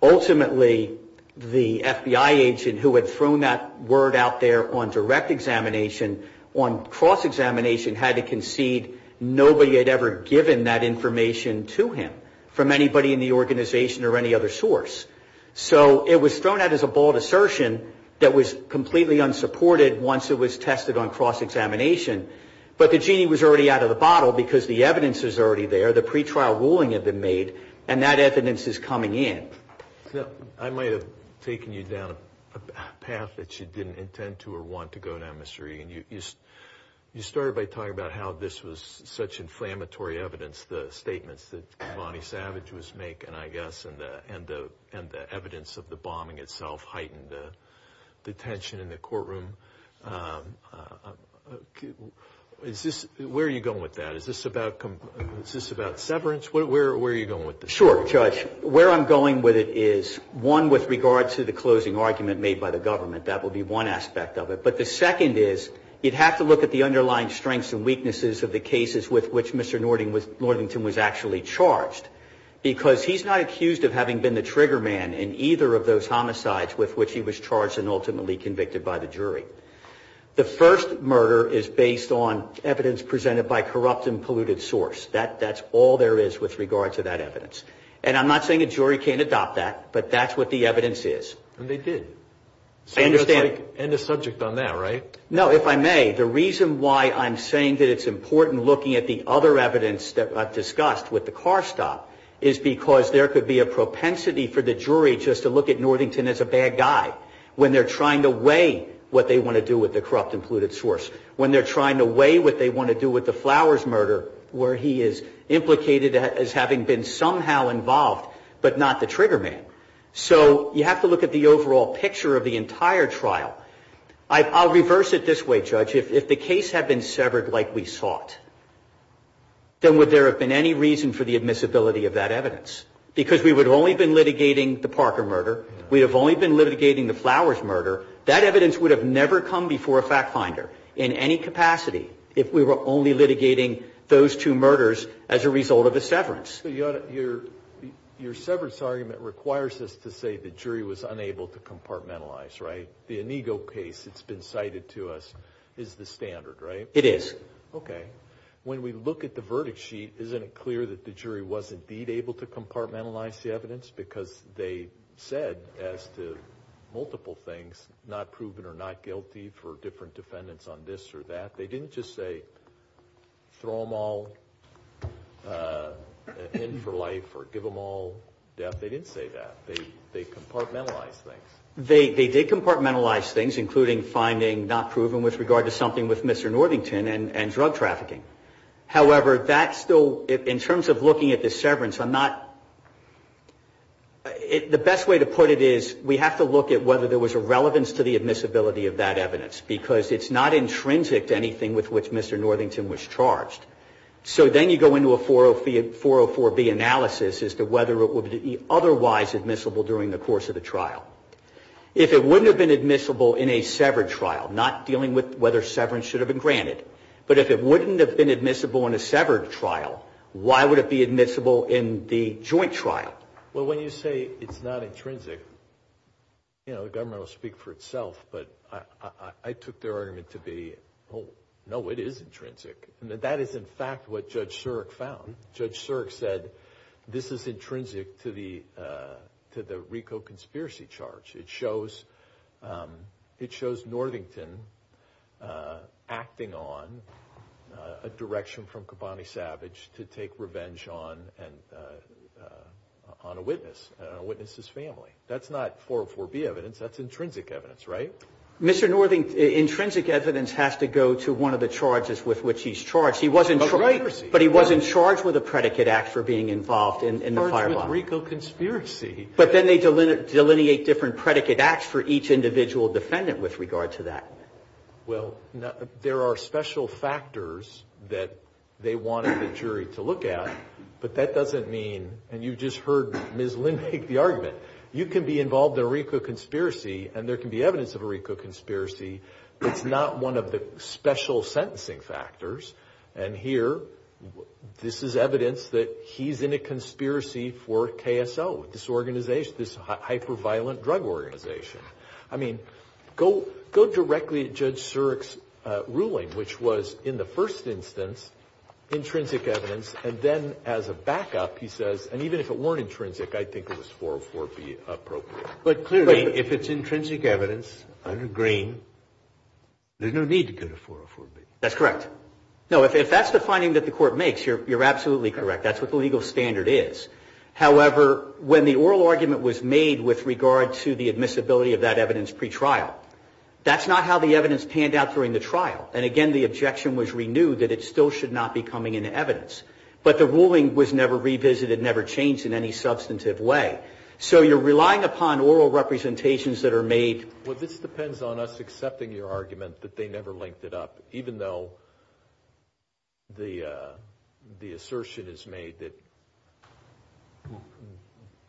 Ultimately, the FBI agent who had thrown that word out there on direct examination, on cross-examination, had to concede nobody had ever given that information to him from anybody in the organization or any other source. So it was thrown out as a bold assertion that was completely unsupported once it was tested on cross-examination. But the genie was already out of the bottle because the evidence is already there. The pretrial ruling has been made, and that evidence is coming in. I might have taken you down a path that you didn't intend to or want to go down, Mr. Regan. You started by talking about how this was such inflammatory evidence, the statements that Lonnie Savage was making, I guess, and the evidence of the bombing itself heightened the tension in the courtroom. Where are you going with that? Is this about severance? Where are you going with this? Sure, Judge. Where I'm going with it is, one, with regard to the closing argument made by the government. That would be one aspect of it. But the second is, you'd have to look at the underlying strengths and weaknesses of the cases with which Mr. Northington was actually charged because he's not accused of having been the trigger man in either of those homicides with which he was charged and ultimately convicted by the jury. The first murder is based on evidence presented by a corrupt and polluted source. That's all there is with regard to that evidence. And I'm not saying a jury can't adopt that, but that's what the evidence is. And they did. I understand. End of subject on that, right? No, if I may, the reason why I'm saying that it's important looking at the other evidence that I've discussed with the car stop is because there could be a propensity for the jury just to look at Northington as a bad guy when they're trying to weigh what they want to do with the corrupt and polluted source, when they're trying to weigh what they want to do with the Flowers murder, where he is implicated as having been somehow involved but not the trigger man. So you have to look at the overall picture of the entire trial. I'll reverse it this way, Judge. If the case had been severed like we saw it, then would there have been any reason for the admissibility of that evidence? Because we would have only been litigating the Parker murder. We would have only been litigating the Flowers murder. That evidence would have never come before a fact finder in any capacity if we were only litigating those two murders as a result of a severance. Your severance argument requires us to say the jury was unable to compartmentalize, right? The Inigo case that's been cited to us is the standard, right? It is. Okay. When we look at the verdict sheet, isn't it clear that the jury was indeed able to compartmentalize the evidence because they said as to multiple things, not proven or not guilty for different defendants on this or that. They didn't just say throw them all in for life or give them all death. They didn't say that. They compartmentalized things. They compartmentalized things, including finding not proven with regard to something with Mr. Northington and drug trafficking. However, that's still, in terms of looking at the severance, I'm not, the best way to put it is we have to look at whether there was a relevance to the admissibility of that evidence because it's not intrinsic to anything with which Mr. Northington was charged. So then you go into a 404B analysis as to whether it would be otherwise admissible during the course of the trial. If it wouldn't have been admissible in a severed trial, not dealing with whether severance should have been granted, but if it wouldn't have been admissible in a severed trial, why would it be admissible in the joint trial? Well, when you say it's not intrinsic, you know, the government will speak for itself, but I took their argument to be, oh, no, it is intrinsic. That is, in fact, what Judge Surik found. Judge Surik said this is intrinsic to the RICO conspiracy charge. It shows Northington acting on a direction from Kobani Savage to take revenge on a witness, a witness's family. That's not 404B evidence. That's intrinsic evidence, right? Mr. Northington, intrinsic evidence has to go to one of the charges with which he's charged. But he was in charge with a predicate act for being involved in the firebox. In charge with RICO conspiracy. But then they delineate different predicate acts for each individual defendant with regard to that. Well, there are special factors that they wanted the jury to look at, but that doesn't mean, and you just heard Ms. Lynn make the argument, you can be involved in a RICO conspiracy, and there can be evidence of a RICO conspiracy, but it's not one of the special sentencing factors. And here, this is evidence that he's in a conspiracy for KSO, this organization, this hyper-violent drug organization. I mean, go directly to Judge Surik's ruling, which was, in the first instance, intrinsic evidence, and then as a backup, he says, and even if it weren't intrinsic, I think it was 404B appropriate. But clearly, if it's intrinsic evidence, under Green, there's no need to go to 404B. That's correct. No, if that's the finding that the court makes, you're absolutely correct. That's what the legal standard is. However, when the oral argument was made with regard to the admissibility of that evidence pretrial, that's not how the evidence panned out during the trial. And again, the objection was renewed that it still should not be coming into evidence. But the ruling was never revisited, never changed in any substantive way. So you're relying upon oral representations that are made. Well, this depends on us accepting your argument that they never linked it up, even though the assertion is made that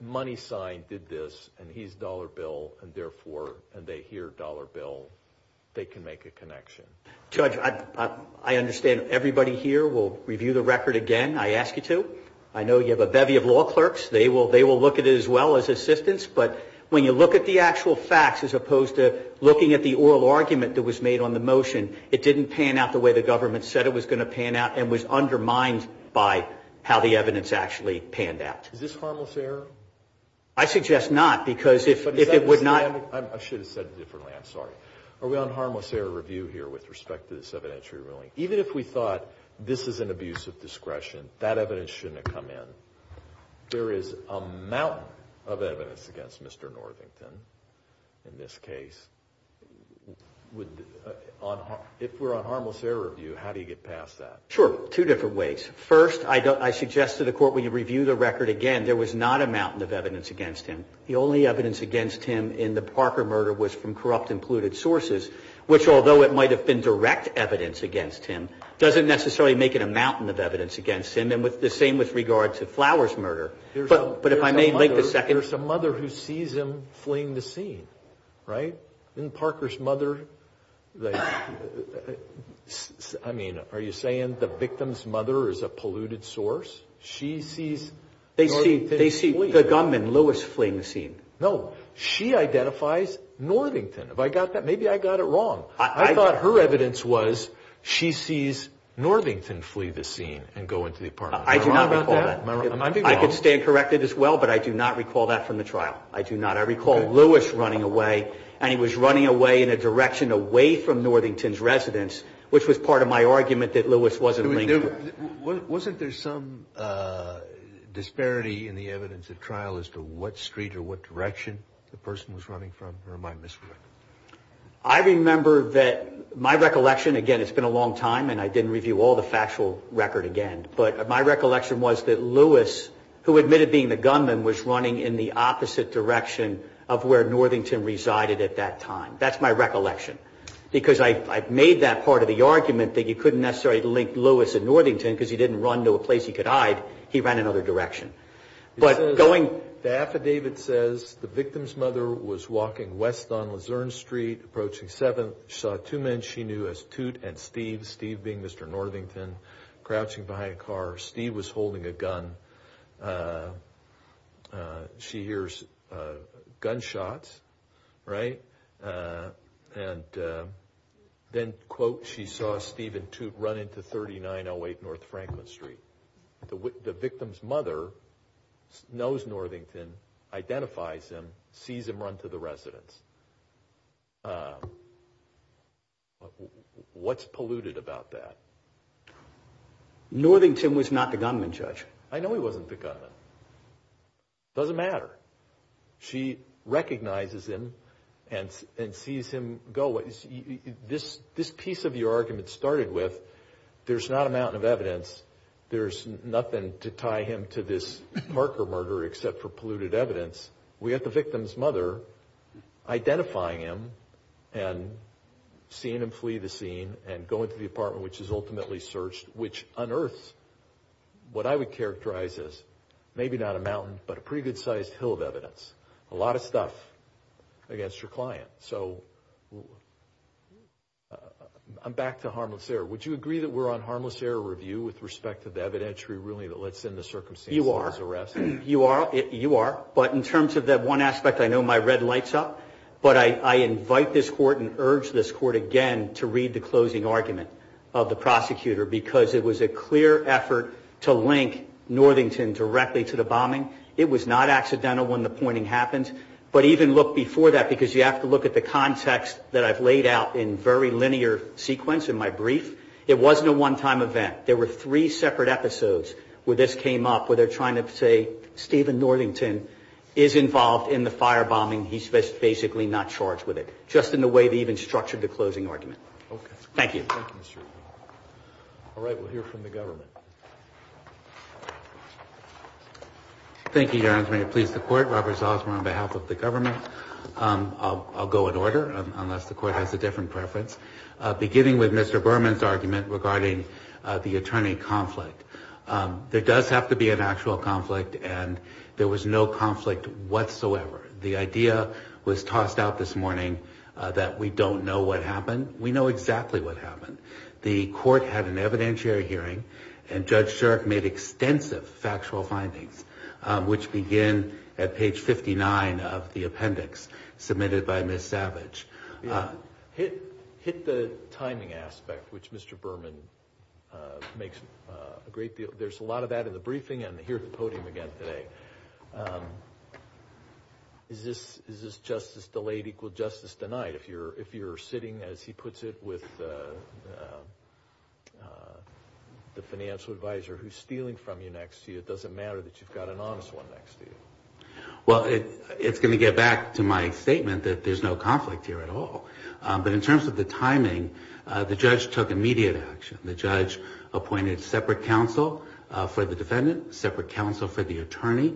MoneySign did this, and he's Dollar Bill, and therefore, and they hear Dollar Bill, they can make a connection. Judge, I understand everybody here will review the record again, I ask you to. I know you have a bevy of law clerks. They will look at it as well as assistants. But when you look at the actual facts as opposed to looking at the oral argument that was made on the motion, it didn't pan out the way the government said it was going to pan out and was undermined by how the evidence actually panned out. Is this harmless error? I suggest not, because if it would not – I should have said it differently, I'm sorry. Are we on harmless error review here with respect to this evidentiary ruling? Even if we thought this is an abuse of discretion, that evidence shouldn't have come in. There is a mountain of evidence against Mr. Northington in this case. If we're on harmless error review, how do you get past that? Sure, two different ways. First, I suggest to the court we review the record again. There was not a mountain of evidence against him. The only evidence against him in the Parker murder was from corrupt and polluted sources, which although it might have been direct evidence against him, doesn't necessarily make it a mountain of evidence against him. And the same with regards to Flowers murder. But if I may take a second – There's a mother who sees him fleeing the scene, right? Isn't Parker's mother – I mean, are you saying the victim's mother is a polluted source? She sees – They see the gunman, Lewis, fleeing the scene. No. She identifies Northington. Have I got that? Maybe I got it wrong. I thought her evidence was she sees Northington flee the scene and go into the apartment. Am I wrong about that? I do not recall that. Am I being wrong? I can stand corrected as well, but I do not recall that from the trial. I do not. I recall Lewis running away, and he was running away in a direction away from Northington's residence, which was part of my argument that Lewis wasn't linked to that. Wasn't there some disparity in the evidence at trial as to what street or what direction the person was running from? I remember that – my recollection – again, it's been a long time, and I didn't review all the factual record again, but my recollection was that Lewis, who admitted being the gunman, was running in the opposite direction of where Northington resided at that time. That's my recollection, because I made that part of the argument that he couldn't necessarily link Lewis and Northington because he didn't run to a place he could hide. He ran another direction. The affidavit says, The victim's mother was walking west on Luzerne Street, approaching 7th. She saw two men she knew as Toot and Steve, Steve being Mr. Northington, crouching behind a car. Steve was holding a gun. She hears gunshots, right? And then, quote, she saw Steve and Toot run into 3908 North Franklin Street. The victim's mother knows Northington, identifies him, sees him run to the residence. What's polluted about that? Northington was not the gunman, Judge. I know he wasn't the gunman. It doesn't matter. She recognizes him and sees him go. This piece of your argument started with, There's not a mountain of evidence. There's nothing to tie him to this marker murder, except for polluted evidence. We have the victim's mother identifying him and seeing him flee the scene and going to the apartment, which is ultimately searched, which unearths what I would characterize as, maybe not a mountain, but a pretty good-sized hill of evidence. A lot of stuff against your client. So, I'm back to harm of fear. Would you agree that we're on harmless error review with respect to the evidentiary ruling that lets in the circumstances of his arrest? You are. You are. But in terms of that one aspect, I know my red light's up. But I invite this court and urge this court again to read the closing argument of the prosecutor because it was a clear effort to link Northington directly to the bombing. It was not accidental when the pointing happened. But even look before that because you have to look at the context that I've laid out in very linear sequence in my brief. It wasn't a one-time event. There were three separate episodes where this came up where they're trying to say, Stephen Northington is involved in the firebombing. He's basically not charged with it, just in the way they even structured the closing argument. Okay. Thank you. We'll hear from the government. Thank you, Your Honor. I'm going to please the court. Robert Zossmer on behalf of the government. I'll go in order unless the court has a different preference. Beginning with Mr. Berman's argument regarding the attorney conflict. There does have to be an actual conflict, and there was no conflict whatsoever. The idea was tossed out this morning that we don't know what happened. We know exactly what happened. The court had an evidentiary hearing, and Judge Sherrick made extensive factual findings, which begin at page 59 of the appendix submitted by Ms. Savage. Hit the timing aspect, which Mr. Berman makes a great deal. There's a lot of that in the briefing, and here's the podium again today. Is this justice delayed equal justice denied? If you're sitting, as he puts it, with the financial advisor who's stealing from you next to you, it doesn't matter that you've got an honest one next to you. Well, it's going to get back to my statement that there's no conflict here at all. But in terms of the timing, the judge took immediate action. The judge appointed separate counsel for the defendant, separate counsel for the attorney,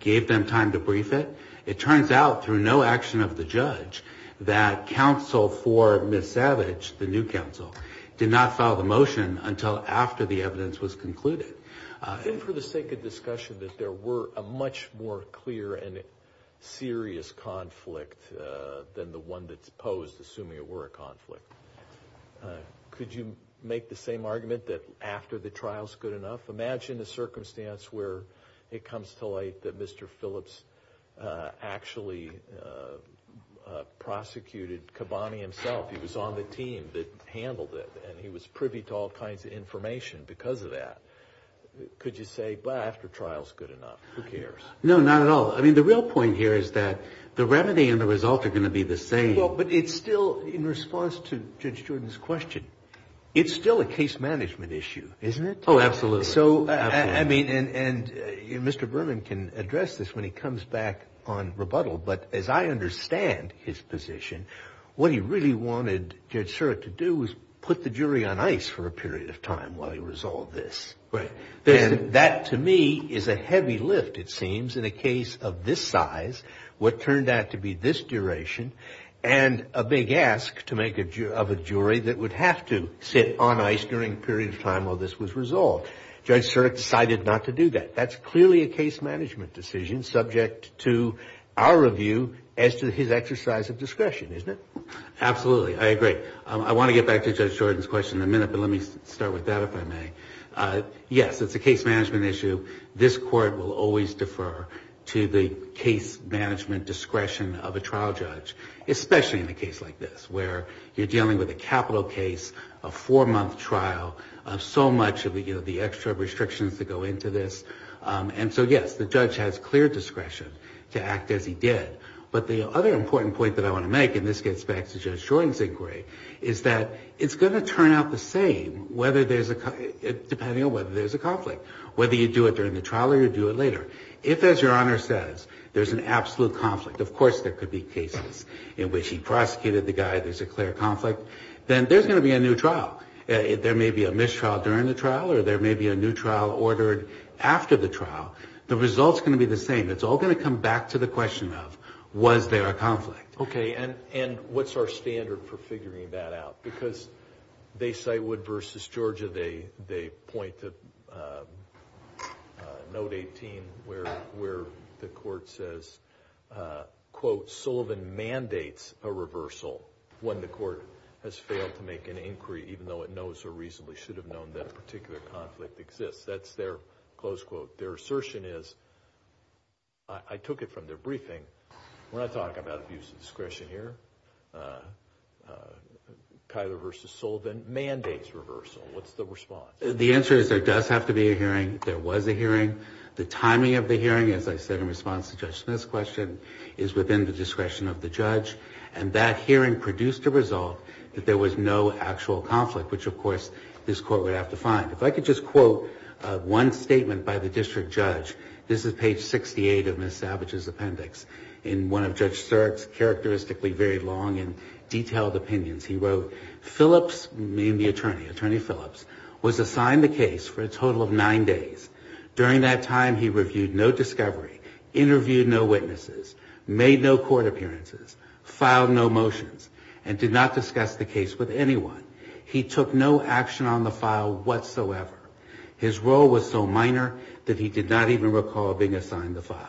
gave them time to brief it. It turns out through no action of the judge that counsel for Ms. Savage, the new counsel, did not file the motion until after the evidence was concluded. I think for the sake of discussion that there were a much more clear and serious conflict than the one that's posed, assuming it were a conflict. Could you make the same argument that after the trial's good enough? Imagine the circumstance where it comes to light that Mr. Phillips actually prosecuted Cabani himself. He was on the team that handled it, and he was privy to all kinds of information because of that. Could you say, well, after trial's good enough? Who cares? No, not at all. I mean, the real point here is that the remedy and the result are going to be the same. But it's still, in response to Judge Jordan's question, it's still a case management issue, isn't it? Oh, absolutely. I mean, and Mr. Berman can address this when he comes back on rebuttal, but as I understand his position, what he really wanted Judge Surik to do was put the jury on ice for a period of time while he resolved this. Right. And that, to me, is a heavy lift, it seems, in a case of this size, what turned out to be this duration, and a big ask to make of a jury that would have to sit on ice during a period of time while this was resolved. Judge Surik decided not to do that. That's clearly a case management decision subject to our review as to his exercise of discretion, isn't it? Absolutely. I agree. I want to get back to Judge Jordan's question in a minute, but let me start with that, if I may. Yes, it's a case management issue. This court will always defer to the case management discretion of a trial judge, especially in a case like this where you're dealing with a capital case, a four-month trial, so much of the extra restrictions that go into this. And so, yes, the judge has clear discretion to act as he did. But the other important point that I want to make, in this case back to Judge Jordan's inquiry, is that it's going to turn out the same depending on whether there's a conflict, whether you do it during the trial or you do it later. If, as Your Honor says, there's an absolute conflict, of course there could be cases in which he prosecuted the guy, there's a clear conflict, then there's going to be a new trial. There may be a mistrial during the trial or there may be a new trial ordered after the trial. The result's going to be the same. It's all going to come back to the question of was there a conflict. Okay, and what's our standard for figuring that out? Because they cite Wood v. Georgia. They point to Note 18 where the court says, quote, Sullivan mandates a reversal when the court has failed to make an inquiry, even though it knows or reasonably should have known that particular conflict exists. That's their close quote. Their assertion is, I took it from their briefing, when I talk about abuse of discretion here, Kyler v. Sullivan mandates reversal. What's the response? The answer is there does have to be a hearing. There was a hearing. The timing of the hearing, as I said in response to Judge Smith's question, is within the discretion of the judge, and that hearing produced a result that there was no actual conflict, which, of course, this court would have to find. If I could just quote one statement by the district judge, this is page 68 of Ms. Savage's appendix. In one of Judge Sterk's characteristically very long and detailed opinions, he wrote, Phillips, named the attorney, Attorney Phillips, was assigned the case for a total of nine days. During that time, he reviewed no discovery, interviewed no witnesses, made no court appearances, filed no motions, and did not discuss the case with anyone. He took no action on the file whatsoever. His role was so minor that he did not even recall being assigned the file.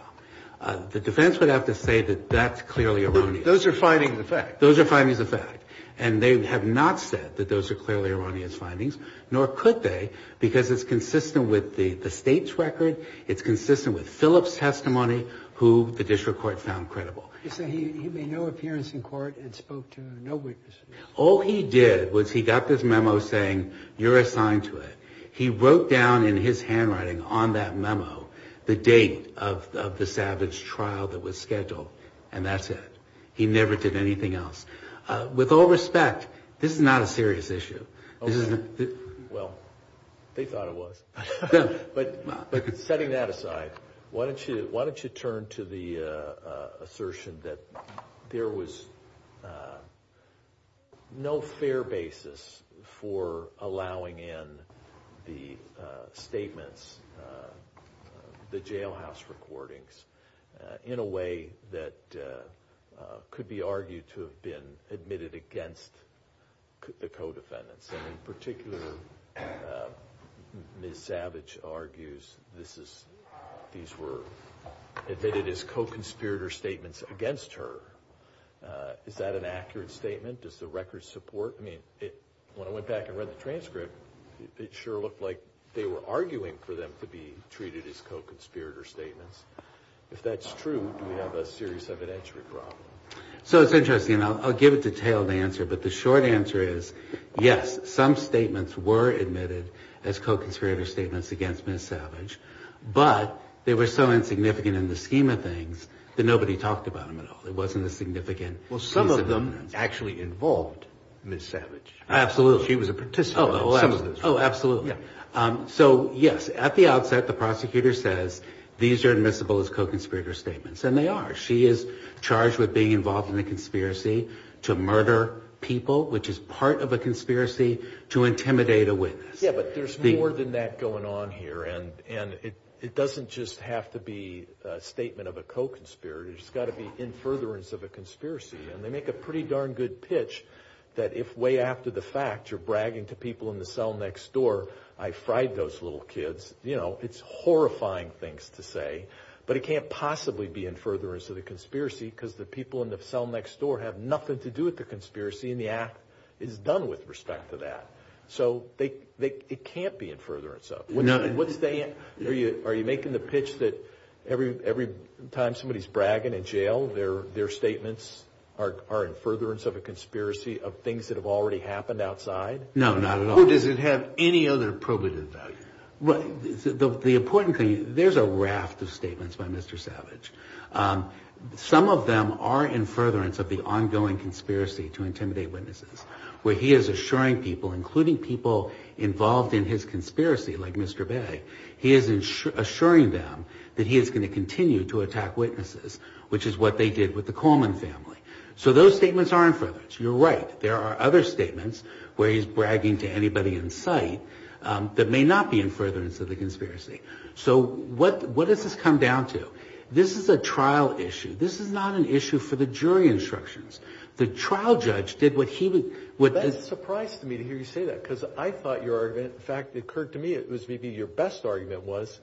The defense would have to say that that's clearly erroneous. Those are findings of fact. Those are findings of fact. And they have not said that those are clearly erroneous findings, nor could they, because it's consistent with the state's record, it's consistent with Phillips' testimony, who the district court found credible. He made no appearance in court and spoke to no witnesses. All he did was he got this memo saying, you're assigned to it. He wrote down in his handwriting on that memo the date of the Savage trial that was scheduled, and that's it. He never did anything else. With all respect, this is not a serious issue. Well, they thought it was. But setting that aside, why don't you turn to the assertion that there was no fair basis for allowing in the statements, the jailhouse recordings, in a way that could be argued to have been admitted against the co-defendants, and in particular, Ms. Savage argues these were admitted as co-conspirator statements against her. Is that an accurate statement? Does the record support it? When I went back and read the transcript, it sure looked like they were arguing for them to be treated as co-conspirator statements. If that's true, do we have a serious evidence or a problem? So it's interesting. I'll give a detailed answer. But the short answer is, yes, some statements were admitted as co-conspirator statements against Ms. Savage, but they were so insignificant in the scheme of things that nobody talked about them at all. It wasn't a significant— Well, some of them actually involved Ms. Savage. Absolutely. She was a participant. Oh, absolutely. So, yes, at the outset, the prosecutor says these are admissible as co-conspirator statements, and they are. She is charged with being involved in a conspiracy to murder people, which is part of a conspiracy, to intimidate a witness. Yes, but there's more than that going on here, and it doesn't just have to be a statement of a co-conspirator. It's got to be in furtherance of a conspiracy. And they make a pretty darn good pitch that if way after the fact you're bragging to people in the cell next door, I fried those little kids. You know, it's horrifying things to say, but it can't possibly be in furtherance of a conspiracy because the people in the cell next door have nothing to do with the conspiracy, and the act is done with respect to that. So it can't be in furtherance of. Are you making the pitch that every time somebody's bragging in jail, their statements are in furtherance of a conspiracy of things that have already happened outside? No, not at all. How does it have any other privileges, though? The important thing, there's a raft of statements by Mr. Savage. Some of them are in furtherance of the ongoing conspiracy to intimidate witnesses, where he is assuring people, including people involved in his conspiracy, like Mr. Bay, he is assuring them that he is going to continue to attack witnesses, which is what they did with the Coleman family. So those statements are in furtherance. You're right. There are other statements where he's bragging to anybody in sight that may not be in furtherance of the conspiracy. So what does this come down to? This is a trial issue. This is not an issue for the jury instructions. The trial judge did what he would— That surprised me to hear you say that because I thought your argument, in fact, it occurred to me, it was maybe your best argument, was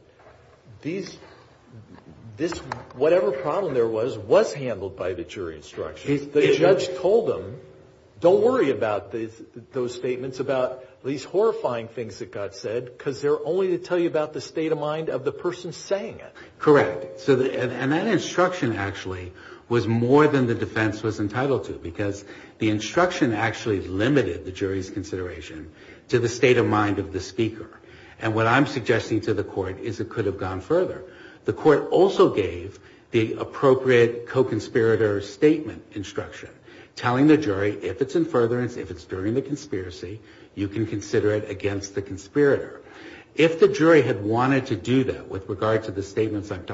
whatever problem there was was handled by the jury instructions. The judge told them, don't worry about those statements, about these horrifying things that got said, because they're only to tell you about the state of mind of the person saying it. Correct. And that instruction actually was more than the defense was entitled to because the instruction actually limited the jury's consideration to the state of mind of the speaker. And what I'm suggesting to the court is it could have gone further. The court also gave the appropriate co-conspirator statement instruction, telling the jury if it's in furtherance, if it's during the conspiracy, you can consider it against the conspirator. If the jury had wanted to do that with regard to the statements I'm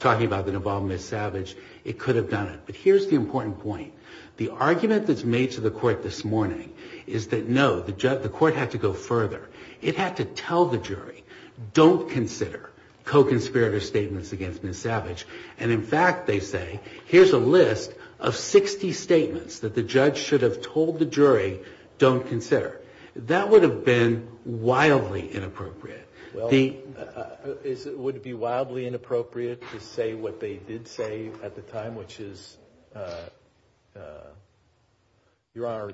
talking about involving Ms. Savage, it could have done it. But here's the important point. The argument that's made to the court this morning is that, no, the court had to go further. It had to tell the jury, don't consider co-conspirator statements against Ms. Savage. And, in fact, they say, here's a list of 60 statements that the judge should have told the jury, don't consider. That would have been wildly inappropriate. It would be wildly inappropriate to say what they did say at the time, which is, Your Honor,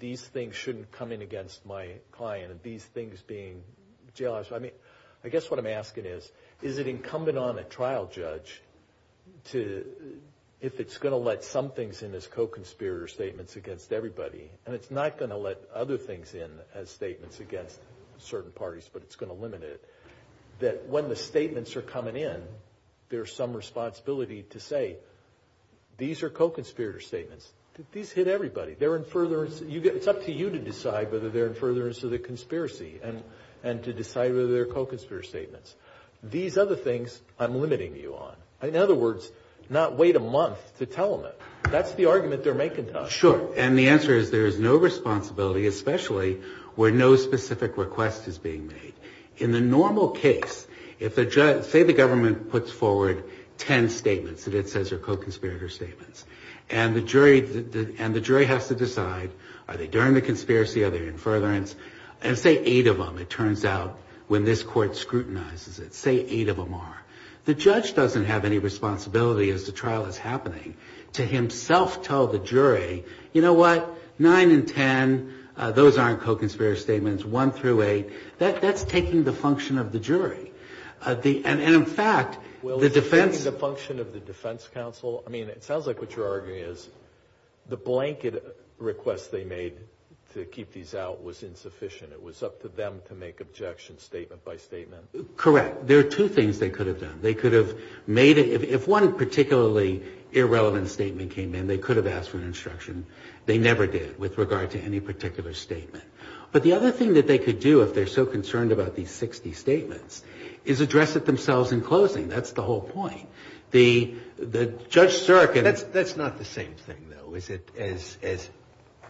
these things shouldn't come in against my client. These things being jail hours. I mean, I guess what I'm asking is, is it incumbent on a trial judge to, if it's going to let some things in as co-conspirator statements against everybody, and it's not going to let other things in as statements against certain parties, but it's going to limit it, that when the statements are coming in, there's some responsibility to say, these are co-conspirator statements. These hit everybody. They're in furtherance. It's up to you to decide whether they're in furtherance of the conspiracy and to decide whether they're co-conspirator statements. These other things, I'm limiting you on. In other words, not wait a month to tell them that. That's the argument they're making to us. Sure. And the answer is there is no responsibility, especially where no specific request is being made. In the normal case, say the government puts forward ten statements that it says are co-conspirator statements, and the jury has to decide, are they during the conspiracy, are they in furtherance? Say eight of them, it turns out, when this court scrutinizes it. Say eight of them are. The judge doesn't have any responsibility as the trial is happening to himself tell the jury, you know what, nine and ten, those aren't co-conspirator statements. One through eight. That's taking the function of the jury. And, in fact, the defense. Well, taking the function of the defense counsel. I mean, it sounds like what you're arguing is the blanket request they made to keep these out was insufficient. It was up to them to make objection statement by statement. Correct. There are two things they could have done. They could have made it. If one particularly irrelevant statement came in, they could have asked for instruction. They never did with regard to any particular statement. But the other thing that they could do, if they're so concerned about these 60 statements, is address it themselves in closing. That's the whole point. The judge circuit. That's not the same thing, though, as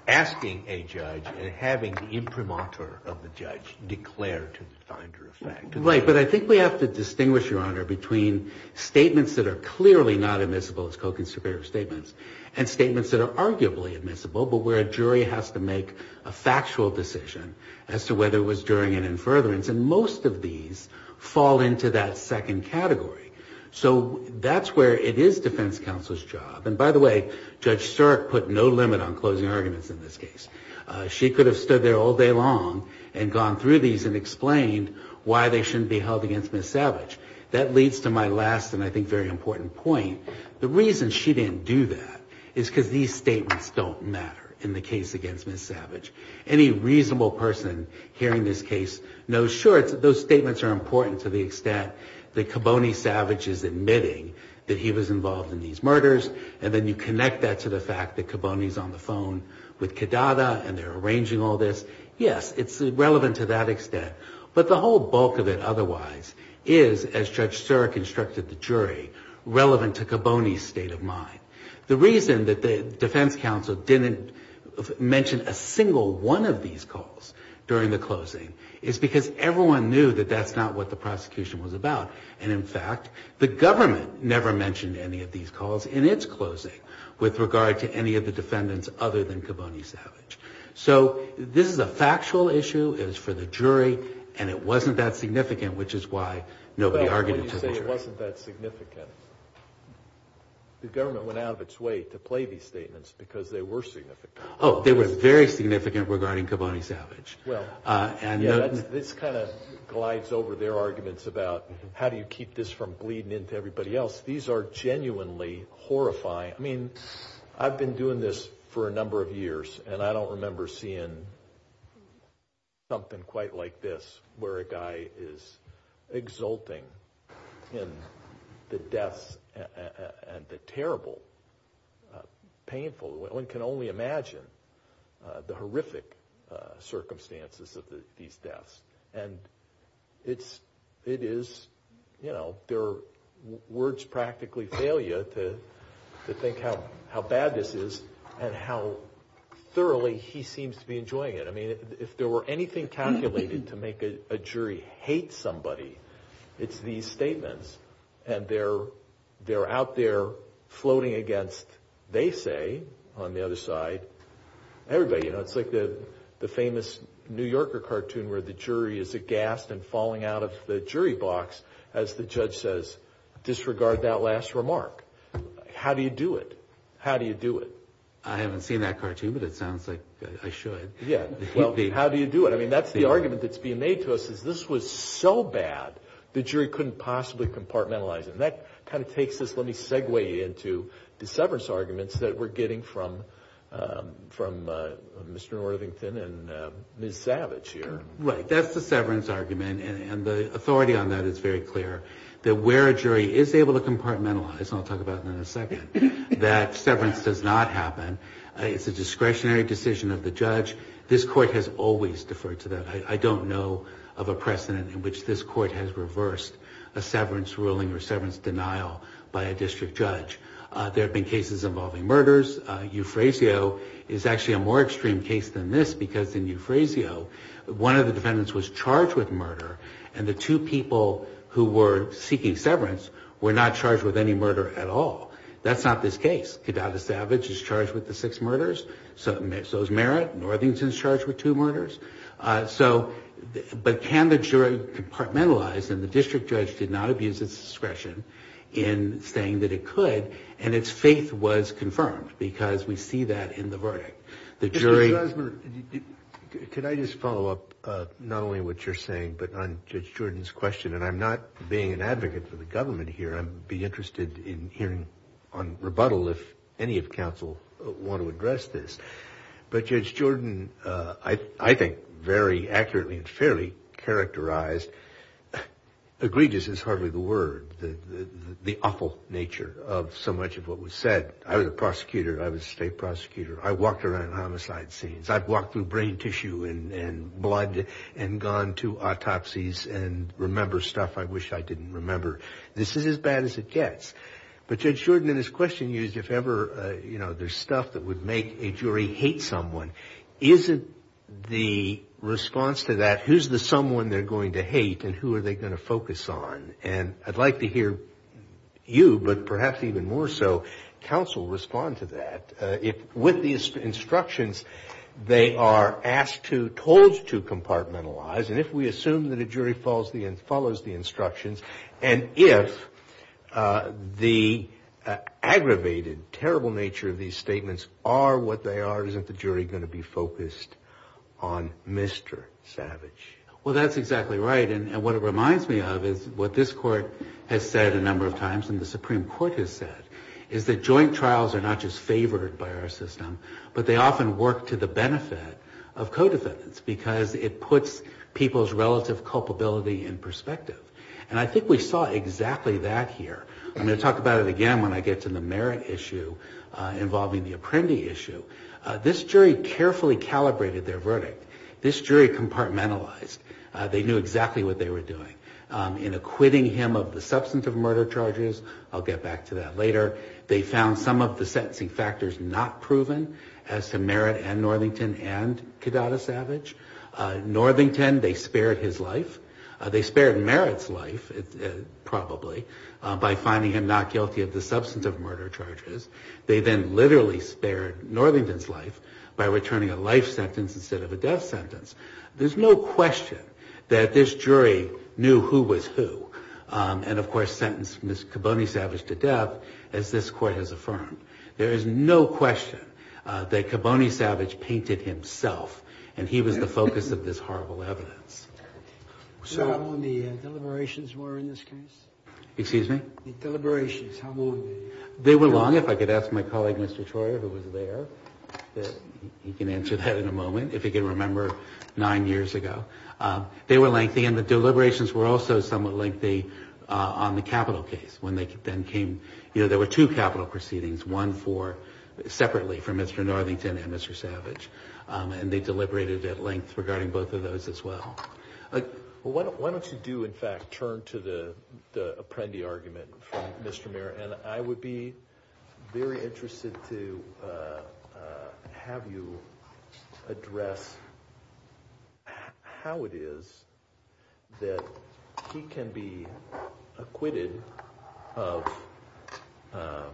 asking a judge and having the imprimatur of the judge declare to find true facts. Right. But I think we have to distinguish, Your Honor, between statements that are clearly not admissible as co-conspirator statements and statements that are arguably admissible, but where a jury has to make a factual decision as to whether it was during an infurbiance. And most of these fall into that second category. So that's where it is defense counsel's job. And, by the way, Judge Sirk put no limit on closing arguments in this case. She could have stood there all day long and gone through these and explained why they shouldn't be held against Ms. Savage. That leads to my last and, I think, very important point. The reason she didn't do that is because these statements don't matter in the case against Ms. Savage. Any reasonable person hearing this case knows, sure, those statements are important to the extent that Kiboney Savage is admitting that he was involved in these murders, and then you connect that to the fact that Kiboney's on the phone with Kedada and they're arranging all this. Yes, it's relevant to that extent. But the whole bulk of it otherwise is, as Judge Sirk instructed the jury, relevant to Kiboney's state of mind. The reason that the defense counsel didn't mention a single one of these calls during the closing is because everyone knew that that's not what the prosecution was about. And, in fact, the government never mentioned any of these calls in its closing with regard to any of the defendants other than Kiboney Savage. So this is a factual issue, it's for the jury, and it wasn't that significant, which is why nobody argued it to the jury. But you say it wasn't that significant. The government went out of its way to play these statements because they were significant. Oh, they were very significant regarding Kiboney Savage. This kind of glides over their arguments about how do you keep this from bleeding into everybody else. These are genuinely horrifying. I mean, I've been doing this for a number of years, and I don't remember seeing something quite like this where a guy is exulting in the death and the terrible, painful, one can only imagine the horrific circumstances of these deaths. And it is, you know, words practically fail you to think how bad this is and how thoroughly he seems to be enjoying it. I mean, if there were anything calculated to make a jury hate somebody, it's these statements. And they're out there floating against, they say, on the other side, everybody. It's like the famous New Yorker cartoon where the jury is aghast and falling out of the jury box as the judge says, disregard that last remark. How do you do it? How do you do it? I haven't seen that cartoon, but it sounds like I should. Well, how do you do it? I mean, that's the argument that's being made to us is this was so bad, the jury couldn't possibly compartmentalize it. And that kind of takes us, let me segue into the severance arguments that we're getting from Mr. Northington and Ms. Savage here. Right, that's the severance argument, and the authority on that is very clear, that where a jury is able to compartmentalize, and I'll talk about that in a second, that severance does not happen. It's a discretionary decision of the judge. This court has always deferred to that. I don't know of a precedent in which this court has reversed a severance ruling or severance denial by a district judge. There have been cases involving murders. Euphrasio is actually a more extreme case than this because in Euphrasio, one of the defendants was charged with murder, and the two people who were seeking severance were not charged with any murder at all. That's not this case. Cadavis Savage is charged with the six murders. So is Merritt. Northington is charged with two murders. But can the jury compartmentalize, and the district judge did not abuse its discretion in saying that it could, and its faith was confirmed because we see that in the verdict. Could I just follow up not only what you're saying but on Judge Jordan's question, and I'm not being an advocate for the government here. I'd be interested in hearing on rebuttal if any of counsel want to address this. But Judge Jordan, I think, very accurately and fairly characterized, egregious is hardly the word, the awful nature of so much of what was said. I was a prosecutor. I was a state prosecutor. I walked around homicide scenes. I've walked through brain tissue and blood and gone to autopsies and remember stuff I wish I didn't remember. This is as bad as it gets. But Judge Jordan in his question used if ever there's stuff that would make a jury hate someone. Is it the response to that, who's the someone they're going to hate and who are they going to focus on? And I'd like to hear you, but perhaps even more so, counsel respond to that. With the instructions, they are asked to, told to compartmentalize, and if we assume that a jury follows the instructions and if the aggravated, terrible nature of these statements are what they are, isn't the jury going to be focused on Mr. Savage? Well, that's exactly right. And what it reminds me of is what this court has said a number of times and the Supreme Court has said is that joint trials are not just favored by our system, but they often work to the benefit of co-defendants because it puts people's relative culpability in perspective. And I think we saw exactly that here. I'm going to talk about it again when I get to the Merritt issue involving the Apprendi issue. This jury carefully calibrated their verdict. This jury compartmentalized. They knew exactly what they were doing. In acquitting him of the substance of murder charges, I'll get back to that later, they found some of the sentencing factors not proven as to Merritt and Northington and Cadata Savage. Northington, they spared his life. They spared Merritt's life, probably, by finding him not guilty of the substance of murder charges. They then literally spared Northington's life by returning a life sentence instead of a death sentence. There's no question that this jury knew who was who and, of course, sentenced Ms. Caboney Savage to death as this court has affirmed. There is no question that Caboney Savage painted himself and he was the focus of this horrible evidence. So how long the deliberations were in this case? Excuse me? The deliberations, how long were they? They were long. If I could ask my colleague, Mr. Troyer, who was there, he can answer that in a moment if he can remember nine years ago. They were lengthy and the deliberations were also somewhat lengthy on the capital case. When they then came, you know, there were two capital proceedings, one for separately for Mr. Northington and Mr. Savage and they deliberated at length regarding both of those as well. Why don't you do, in fact, turn to the Apprendi argument from Mr. Merritt and I would be very interested to have you address how it is that he can be acquitted of the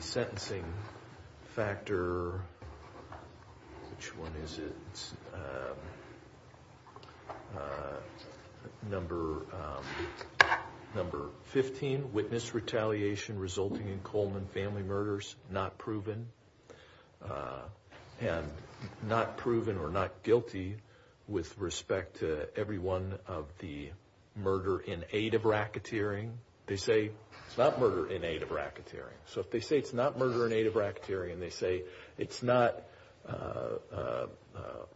sentencing factor, which one is it? Number 15, witness retaliation resulting in Coleman family murders not proven and not proven or not guilty with respect to every one of the murder in aid of racketeering. They say it's not murder in aid of racketeering. So if they say it's not murder in aid of racketeering, they say it's not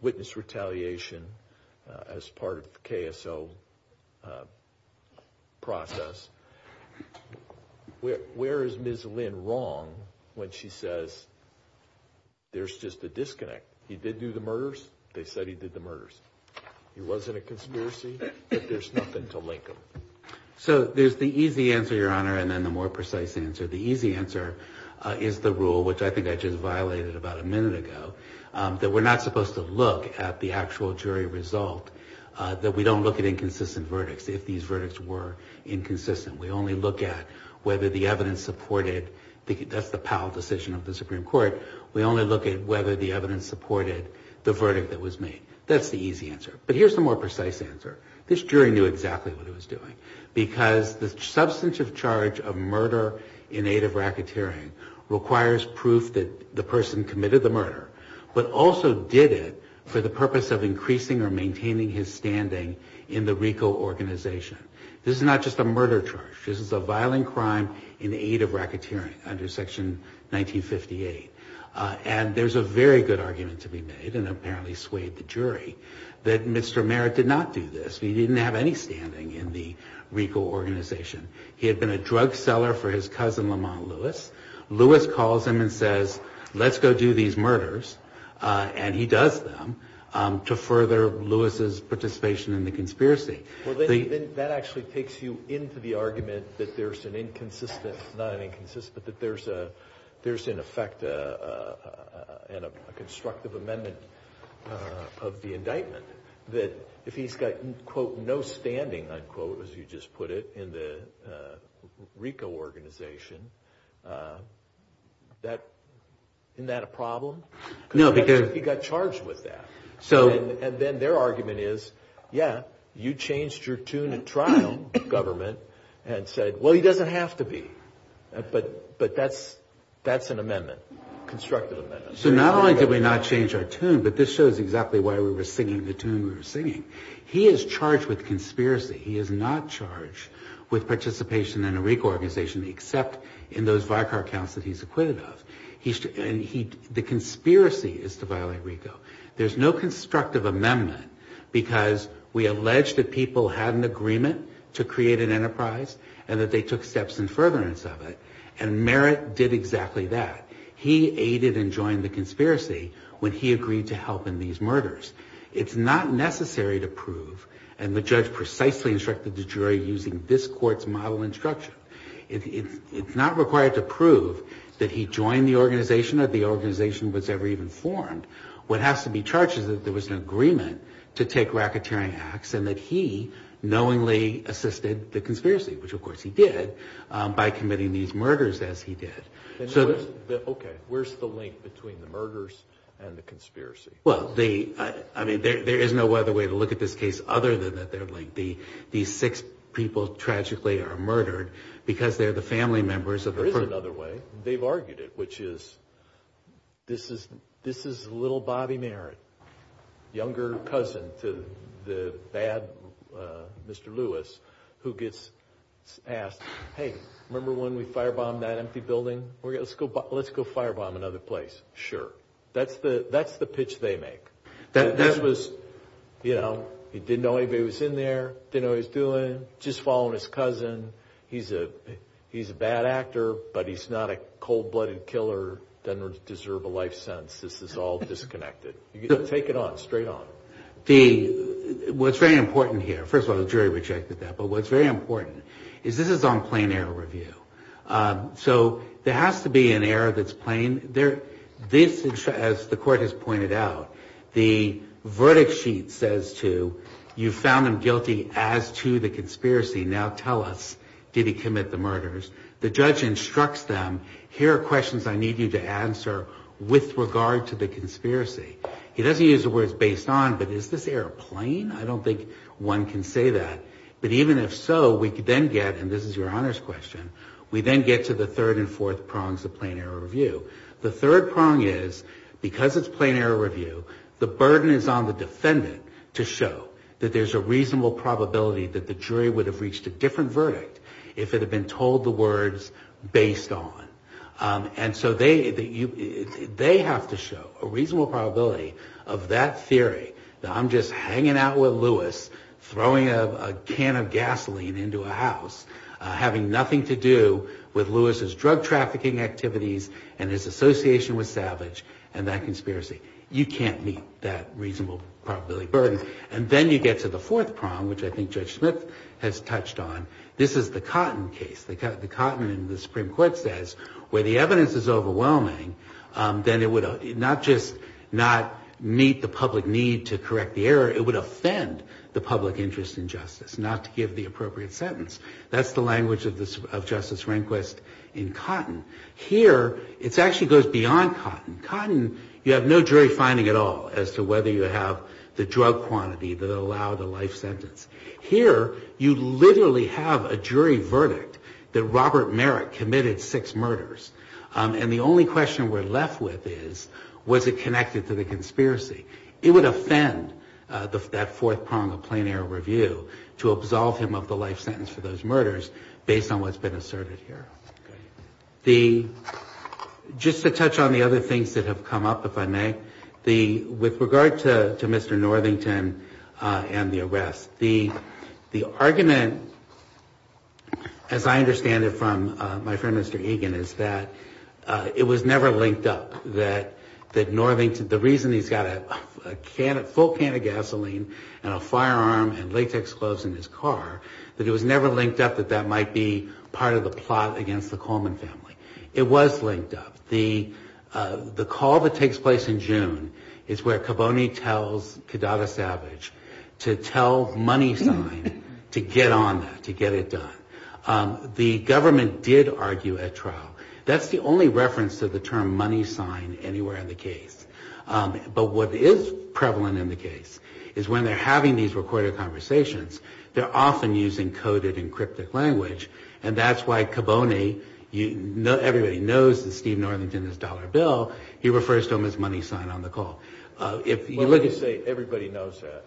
witness retaliation as part of the KSO process. Where is Ms. Lynn wrong when she says there's just a disconnect? He did do the murders. They said he did the murders. It wasn't a conspiracy, but there's nothing to link them. So there's the easy answer, Your Honor, and then the more precise answer. The easy answer is the rule, which I think I just violated about a minute ago, that we're not supposed to look at the actual jury result, that we don't look at inconsistent verdicts if these verdicts were inconsistent. We only look at whether the evidence supported the decision of the Supreme Court. We only look at whether the evidence supported the verdict that was made. That's the easy answer. But here's the more precise answer. This jury knew exactly what it was doing because the substantive charge of murder in aid of racketeering requires proof that the person committed the murder, but also did it for the purpose of increasing or maintaining his standing in the legal organization. This is not just a murder charge. This is a violent crime in aid of racketeering under Section 1958. And there's a very good argument to be made, and it apparently swayed the jury, that Mr. Merritt did not do this. He didn't have any standing in the legal organization. He had been a drug seller for his cousin, Lamont Lewis. Lewis calls him and says, let's go do these murders, and he does them to further Lewis's participation in the conspiracy. Well, then that actually takes you into the argument that there's an inconsistent, not an inconsistent, but there's in effect a constructive amendment of the indictment that if he's got, quote, no standing, unquote, as you just put it, in the RICO organization, isn't that a problem? He got charged with that. And then their argument is, yeah, you changed your tune of trial, government, and said, well, he doesn't have to be. But that's an amendment, constructive amendment. So not only did we not change our tune, but this shows exactly why we were singing the tune we were singing. He is charged with conspiracy. He is not charged with participation in a RICO organization, except in those VICAR counts that he's acquitted of. The conspiracy is to violate RICO. There's no constructive amendment, because we allege that people had an agreement to create an enterprise and that they took steps in furtherance of it, and Merritt did exactly that. He aided and joined the conspiracy when he agreed to help in these murders. It's not necessary to prove, and the judge precisely instructed the jury using this court's model and structure, it's not required to prove that he joined the organization or the organization was ever even formed. What has to be charged is that there was an agreement to take racketeering acts and that he knowingly assisted the conspiracy, which of course he did by committing these murders as he did. Okay, where's the link between the murders and the conspiracy? Well, I mean, there is no other way to look at this case other than that these six people tragically are murdered because they're the family members of the- There is another way. They've argued it, which is, this is little Bobby Merritt, younger cousin to the bad Mr. Lewis, who gets asked, hey, remember when we firebombed that empty building? Let's go firebomb another place. Sure. That's the pitch they make. That was, you know, he didn't know anybody was in there, didn't know what he was doing, just following his cousin. He's a bad actor, but he's not a cold-blooded killer that doesn't deserve a life sentence. This is all disconnected. Take it on, straight on. What's very important here, first of all, the jury rejected that, but what's very important is this is on plain error review. So there has to be an error that's plain. This, as the court has pointed out, the verdict sheet says to, you found him guilty as to the conspiracy. Now tell us, did he commit the murders? The judge instructs them, here are questions I need you to answer with regard to the conspiracy. He doesn't use the words based on, but is this error plain? I don't think one can say that. But even if so, we then get, and this is your honors question, we then get to the third and fourth prongs of plain error review. The third prong is, because it's plain error review, the burden is on the defendant to show that there's a reasonable probability that the jury would have reached a different verdict if it had been told the words based on. And so they have to show a reasonable probability of that theory, that I'm just hanging out with Lewis, throwing a can of gasoline into a house, having nothing to do with Lewis's drug trafficking activities and his association with Savage and that conspiracy. You can't meet that reasonable probability burden. And then you get to the fourth prong, which I think Judge Smith has touched on. This is the Cotton case. The Cotton in the Supreme Court says where the evidence is overwhelming, then it would not just not meet the public need to correct the error, it would offend the public interest in justice, not to give the appropriate sentence. That's the language of Justice Rehnquist in Cotton. Here, it actually goes beyond Cotton. In Cotton, you have no jury finding at all as to whether you have the drug quantity that will allow the life sentence. Here, you literally have a jury verdict that Robert Merrick committed six murders. And the only question we're left with is, was it connected to the conspiracy? It would offend that fourth prong of plain error review to absolve him of the life sentence for those murders based on what's been asserted here. Just to touch on the other things that have come up, if I may, with regard to Mr. Northington and the arrest, the argument, as I understand it from my friend Mr. Egan, is that it was never linked up that Northington, the reason he's got a full can of gasoline and a firearm and latex clothes in his car, that it was never linked up that that might be part of the plot against the Coleman family. It was linked up. The call that takes place in June is where Caboni tells Cadaga Savage to tell MoneySign to get on that, to get it done. The government did argue at trial. That's the only reference to the term MoneySign anywhere in the case. But what is prevalent in the case is when they're having these recorded conversations, they're often using coded and cryptic language, and that's why Caboni, everybody knows that Steve Northington is Dollar Bill, he refers to him as MoneySign on the call. Let me just say, everybody knows that.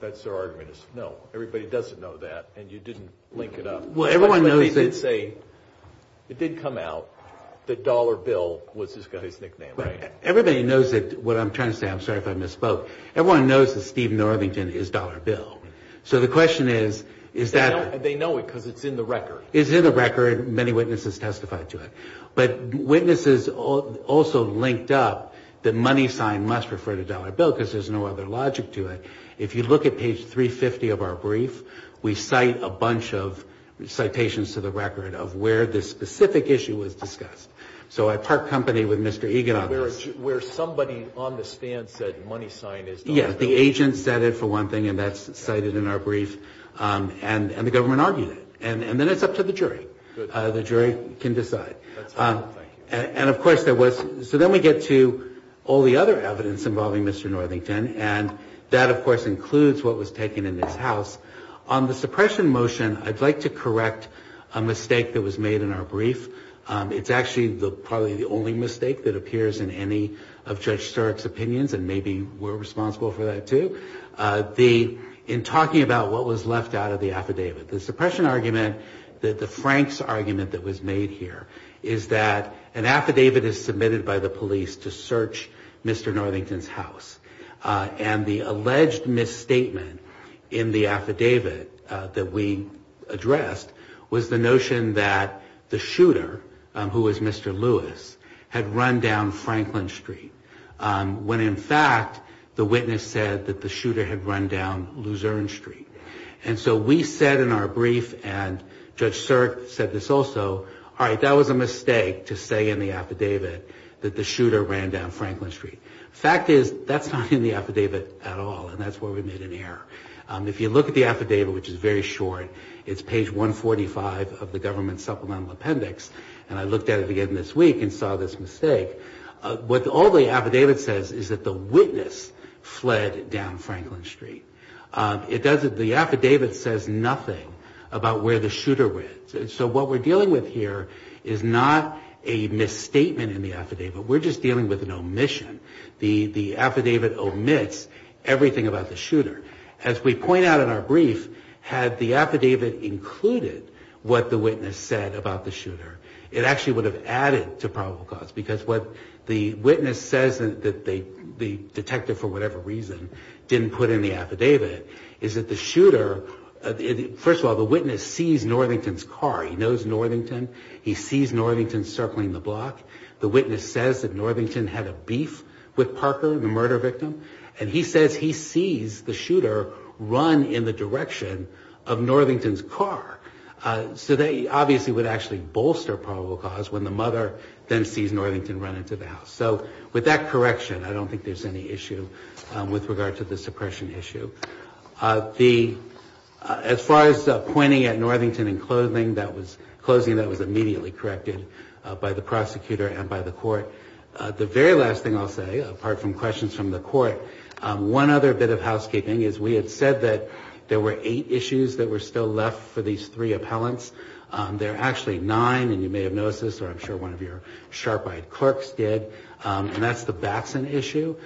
That's their argument is, no, everybody doesn't know that, and you didn't link it up. Let me just say, it did come out that Dollar Bill was his nickname. Everybody knows that, what I'm trying to say, I'm sorry if I misspoke, everyone knows that Steve Northington is Dollar Bill. So the question is, is that... They know it because it's in the record. It's in the record, many witnesses testified to it. But witnesses also linked up that MoneySign must refer to Dollar Bill because there's no other logic to it. If you look at page 350 of our brief, we cite a bunch of citations to the record of where this specific issue was discussed. So I part company with Mr. Egan on this. Where somebody on the stand said MoneySign is Dollar Bill. Yes, the agent said it, for one thing, and that's cited in our brief. And the government argued it. And then it's up to the jury. The jury can decide. And, of course, there was... So then we get to all the other evidence involving Mr. Northington, and that, of course, includes what was taken in this house. On the suppression motion, I'd like to correct a mistake that was made in our brief. It's actually probably the only mistake that appears in any of Judge Starrick's opinions, and maybe we're responsible for that too, in talking about what was left out of the affidavit. The suppression argument, the Franks argument that was made here, is that an affidavit is submitted by the police to search Mr. Northington's house. And the alleged misstatement in the affidavit that we addressed was the notion that the shooter, who was Mr. Lewis, had run down Franklin Street, when, in fact, the witness said that the shooter had run down Luzerne Street. And so we said in our brief, and Judge Starrick said this also, all right, that was a mistake to say in the affidavit that the shooter ran down Franklin Street. The fact is, that's not in the affidavit at all, and that's where we made an error. If you look at the affidavit, which is very short, it's page 145 of the government supplemental appendix, and I looked at it again this week and saw this mistake. All the affidavit says is that the witness fled down Franklin Street. The affidavit says nothing about where the shooter went. So what we're dealing with here is not a misstatement in the affidavit. We're just dealing with an omission. The affidavit omits everything about the shooter. As we point out in our brief, had the affidavit included what the witness said about the shooter, it actually would have added to probable cause, because what the witness says that the detective, for whatever reason, didn't put in the affidavit, is that the shooter, first of all, the witness sees Northington's car. He knows Northington. He sees Northington circling the block. The witness says that Northington had a beef with Parker, the murder victim, and he says he sees the shooter run in the direction of Northington's car. So they obviously would actually bolster probable cause when the mother then sees Northington run into the house. So with that correction, I don't think there's any issue with regard to the suppression issue. As far as pointing at Northington and closing, that was immediately corrected by the prosecutor and by the court. The very last thing I'll say, apart from questions from the court, one other bit of housekeeping is we had said that there were eight issues that were still left for these three appellants. There are actually nine, and you may have noticed this, or I'm sure one of your sharp-eyed clerks did, and that's the Batson issue.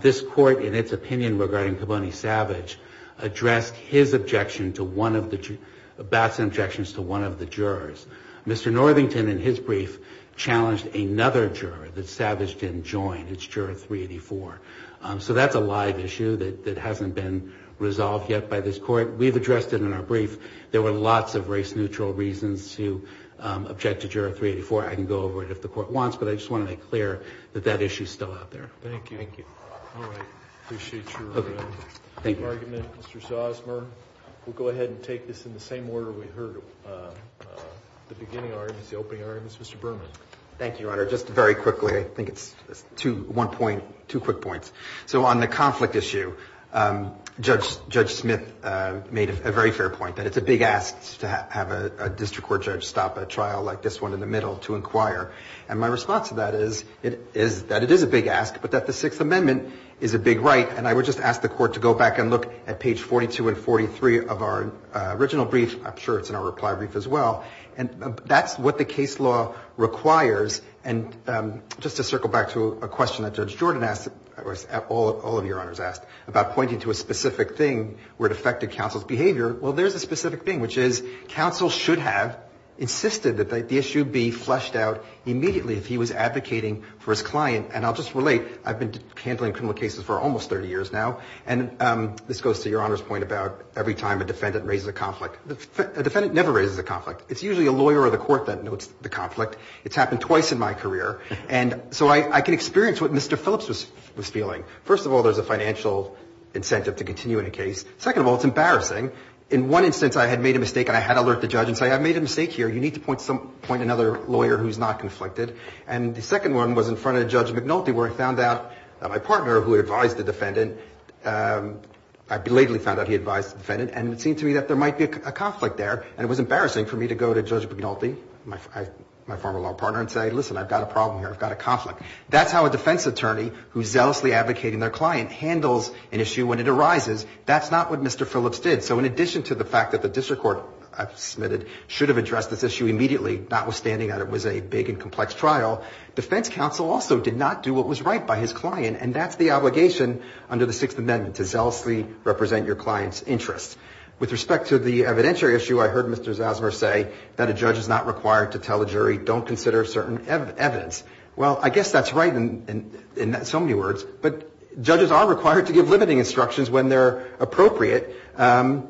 This court, in its opinion regarding Keboney Savage, addressed his objection to one of the – Batson's objections to one of the jurors. Mr. Northington, in his brief, challenged another juror that Savage didn't join, and it's juror 384. So that's a live issue that hasn't been resolved yet by this court. We've addressed it in our brief. There were lots of race-neutral reasons to object to juror 384. I can go over it if the court wants, but I just want to make clear that that issue's still out there. Thank you. Thank you. All right. Appreciate your argument, Mr. Sosmer. We'll go ahead and take this in the same order we heard the beginning arguments, the opening arguments. Mr. Berman. Thank you, Your Honor. Just very quickly, I think it's one point, two quick points. So on the conflict issue, Judge Smith made a very fair point, that it's a big ask to have a district court judge stop a trial like this one in the middle to inquire. And my response to that is that it is a big ask, but that the Sixth Amendment is a big right, and I would just ask the court to go back and look at page 42 and 43 of our original brief. I'm sure it's in our reply brief as well. And that's what the case law requires. And just to circle back to a question that Judge Jordan asked, or all of your honors asked, about pointing to a specific thing where it affected counsel's behavior. Well, there's a specific thing, which is counsel should have insisted that the issue be fleshed out immediately if he was advocating for his client. And I'll just relate. I've been handling criminal cases for almost 30 years now, and this goes to Your Honor's point about every time a defendant raises a conflict. A defendant never raises a conflict. It's usually a lawyer or the court that notes the conflict. It's happened twice in my career. And so I can experience what Mr. Phillips was feeling. First of all, there's a financial incentive to continue in a case. Second of all, it's embarrassing. In one instance, I had made a mistake, and I had alerted the judge and said, I've made a mistake here. You need to point to another lawyer who's not conflicted. And the second one was in front of Judge McNulty, where I found out that my partner, who advised the defendant, I belatedly found out he advised the defendant, and it seemed to me that there might be a conflict there. And it was embarrassing for me to go to Judge McNulty, my former law partner, and say, listen, I've got a problem here. I've got a conflict. That's how a defense attorney who's zealously advocating their client handles an issue when it arises. That's not what Mr. Phillips did. So in addition to the fact that the district court, I've submitted, should have addressed this issue immediately, notwithstanding that it was a big and complex trial, defense counsel also did not do what was right by his client, and that's the obligation under the Sixth Amendment, to zealously represent your client's interests. With respect to the evidentiary issue, I heard Mr. Zosmer say that a judge is not required to tell a jury, don't consider certain evidence. Well, I guess that's right in so many words, but judges are required to give limiting instructions when they're appropriate, and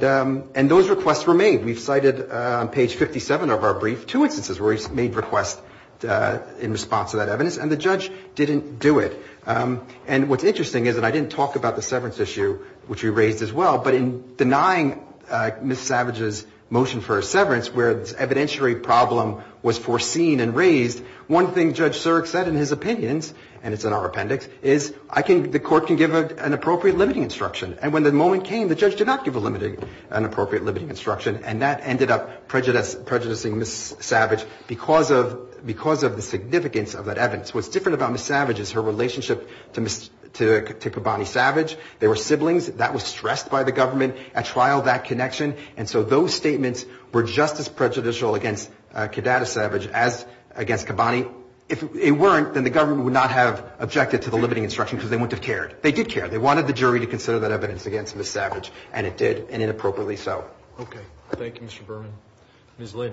those requests were made. We cited on page 57 of our brief two instances where he made requests in response to that evidence, and the judge didn't do it. And what's interesting is that I didn't talk about the severance issue, which we raised as well, but in denying Ms. Savage's motion for a severance where the evidentiary problem was foreseen and raised, one thing Judge Surik said in his opinion, and it's in our appendix, is I think the court can give an appropriate limiting instruction. And when the moment came, the judge did not give an appropriate limiting instruction, and that ended up prejudicing Ms. Savage because of the significance of that evidence. What's different about Ms. Savage is her relationship to Kabbani Savage. They were siblings. That was stressed by the government at trial, that connection. And so those statements were just as prejudicial against Kaddada Savage as against Kabbani. If it weren't, then the government would not have objected to the limiting instruction because they wouldn't have cared. They did care. They wanted the jury to consider that evidence against Ms. Savage, and it did, and inappropriately so. Okay. Thank you, Mr. Berman. Ms. Lynn.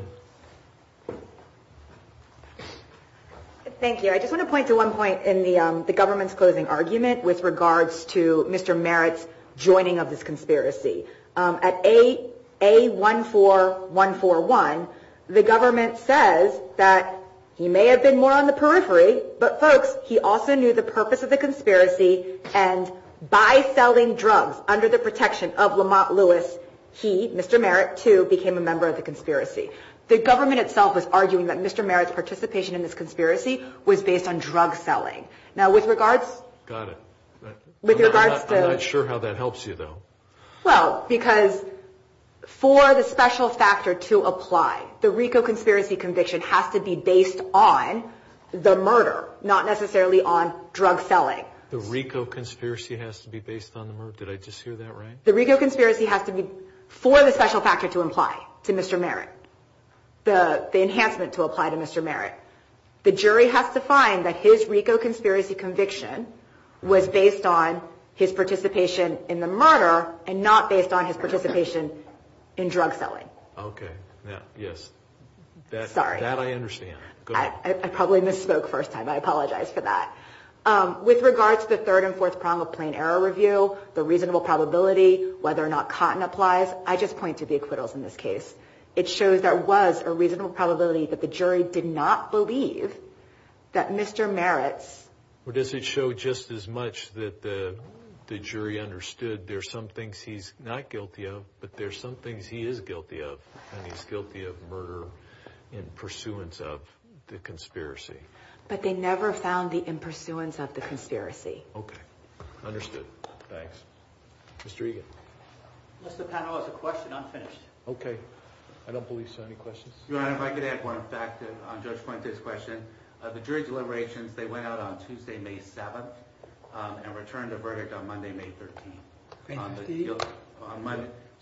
Thank you. I just want to point to one point in the government's closing argument with regards to Mr. Merritt's joining of this conspiracy. At A14141, the government says that he may have been more on the periphery, but, folks, he also knew the purpose of the conspiracy, and by selling drugs under the protection of Lamont Lewis, he, Mr. Merritt, too, became a member of the conspiracy. The government itself is arguing that Mr. Merritt's participation in this conspiracy was based on drug selling. Now, with regards to the – Got it. I'm not sure how that helps you, though. Well, because for the special factor to apply, the RICO conspiracy conviction has to be based on the murder, not necessarily on drug selling. The RICO conspiracy has to be based on the murder? Did I just hear that right? The RICO conspiracy has to be for the special factor to apply to Mr. Merritt. The enhancement to apply to Mr. Merritt. The jury has to find that his RICO conspiracy conviction was based on his participation in the murder and not based on his participation in drug selling. Okay. Yes. Sorry. That I understand. Go ahead. I probably misspoke first time. I apologize for that. With regards to the third and fourth prong of plain error review, the reasonable probability, whether or not Cotton applies, I just point to the acquittals in this case. It shows there was a reasonable probability that the jury did not believe that Mr. Merritt... Or does it show just as much that the jury understood there's some things he's not guilty of, but there's some things he is guilty of, and he's guilty of murder in pursuance of the conspiracy. But they never found the in pursuance of the conspiracy. Okay. Understood. Thanks. Mr. Egan. Just a panelist question. I'm finished. Okay. I don't believe so. Any questions? Your Honor, if I could add one fact on Judge Poynter's question. The jury deliberations, they went out on Tuesday, May 7th, and returned a verdict on Monday, May 13th.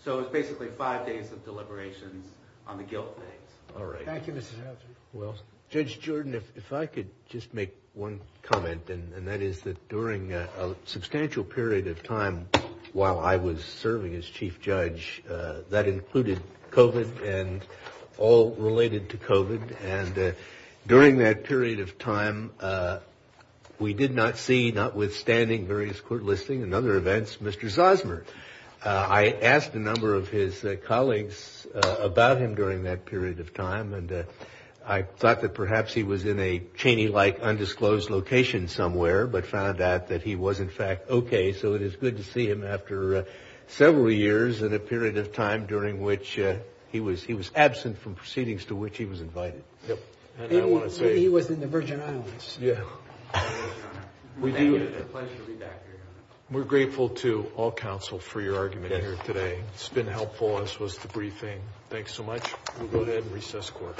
So it was basically five days of deliberations on the guilt day. All right. Thank you, Mr. Hatcher. Judge Jordan, if I could just make one comment, and that is that during a substantial period of time while I was serving as counsel, I was involved in a number of cases that included COVID and all related to COVID. And during that period of time, we did not see notwithstanding various court listings and other events, Mr. Zosmer. I asked a number of his colleagues about him during that period of time, and I thought that perhaps he was in a Cheney-like undisclosed location somewhere, but found out that he was in fact okay. So it is good to see him after several years and a period of time during which he was absent from proceedings to which he was invited. Yep. He was in the Virgin Islands. Yeah. We're grateful to all counsel for your argument here today. It's been helpful. This was the briefing. Thanks so much. We'll go ahead and recess court.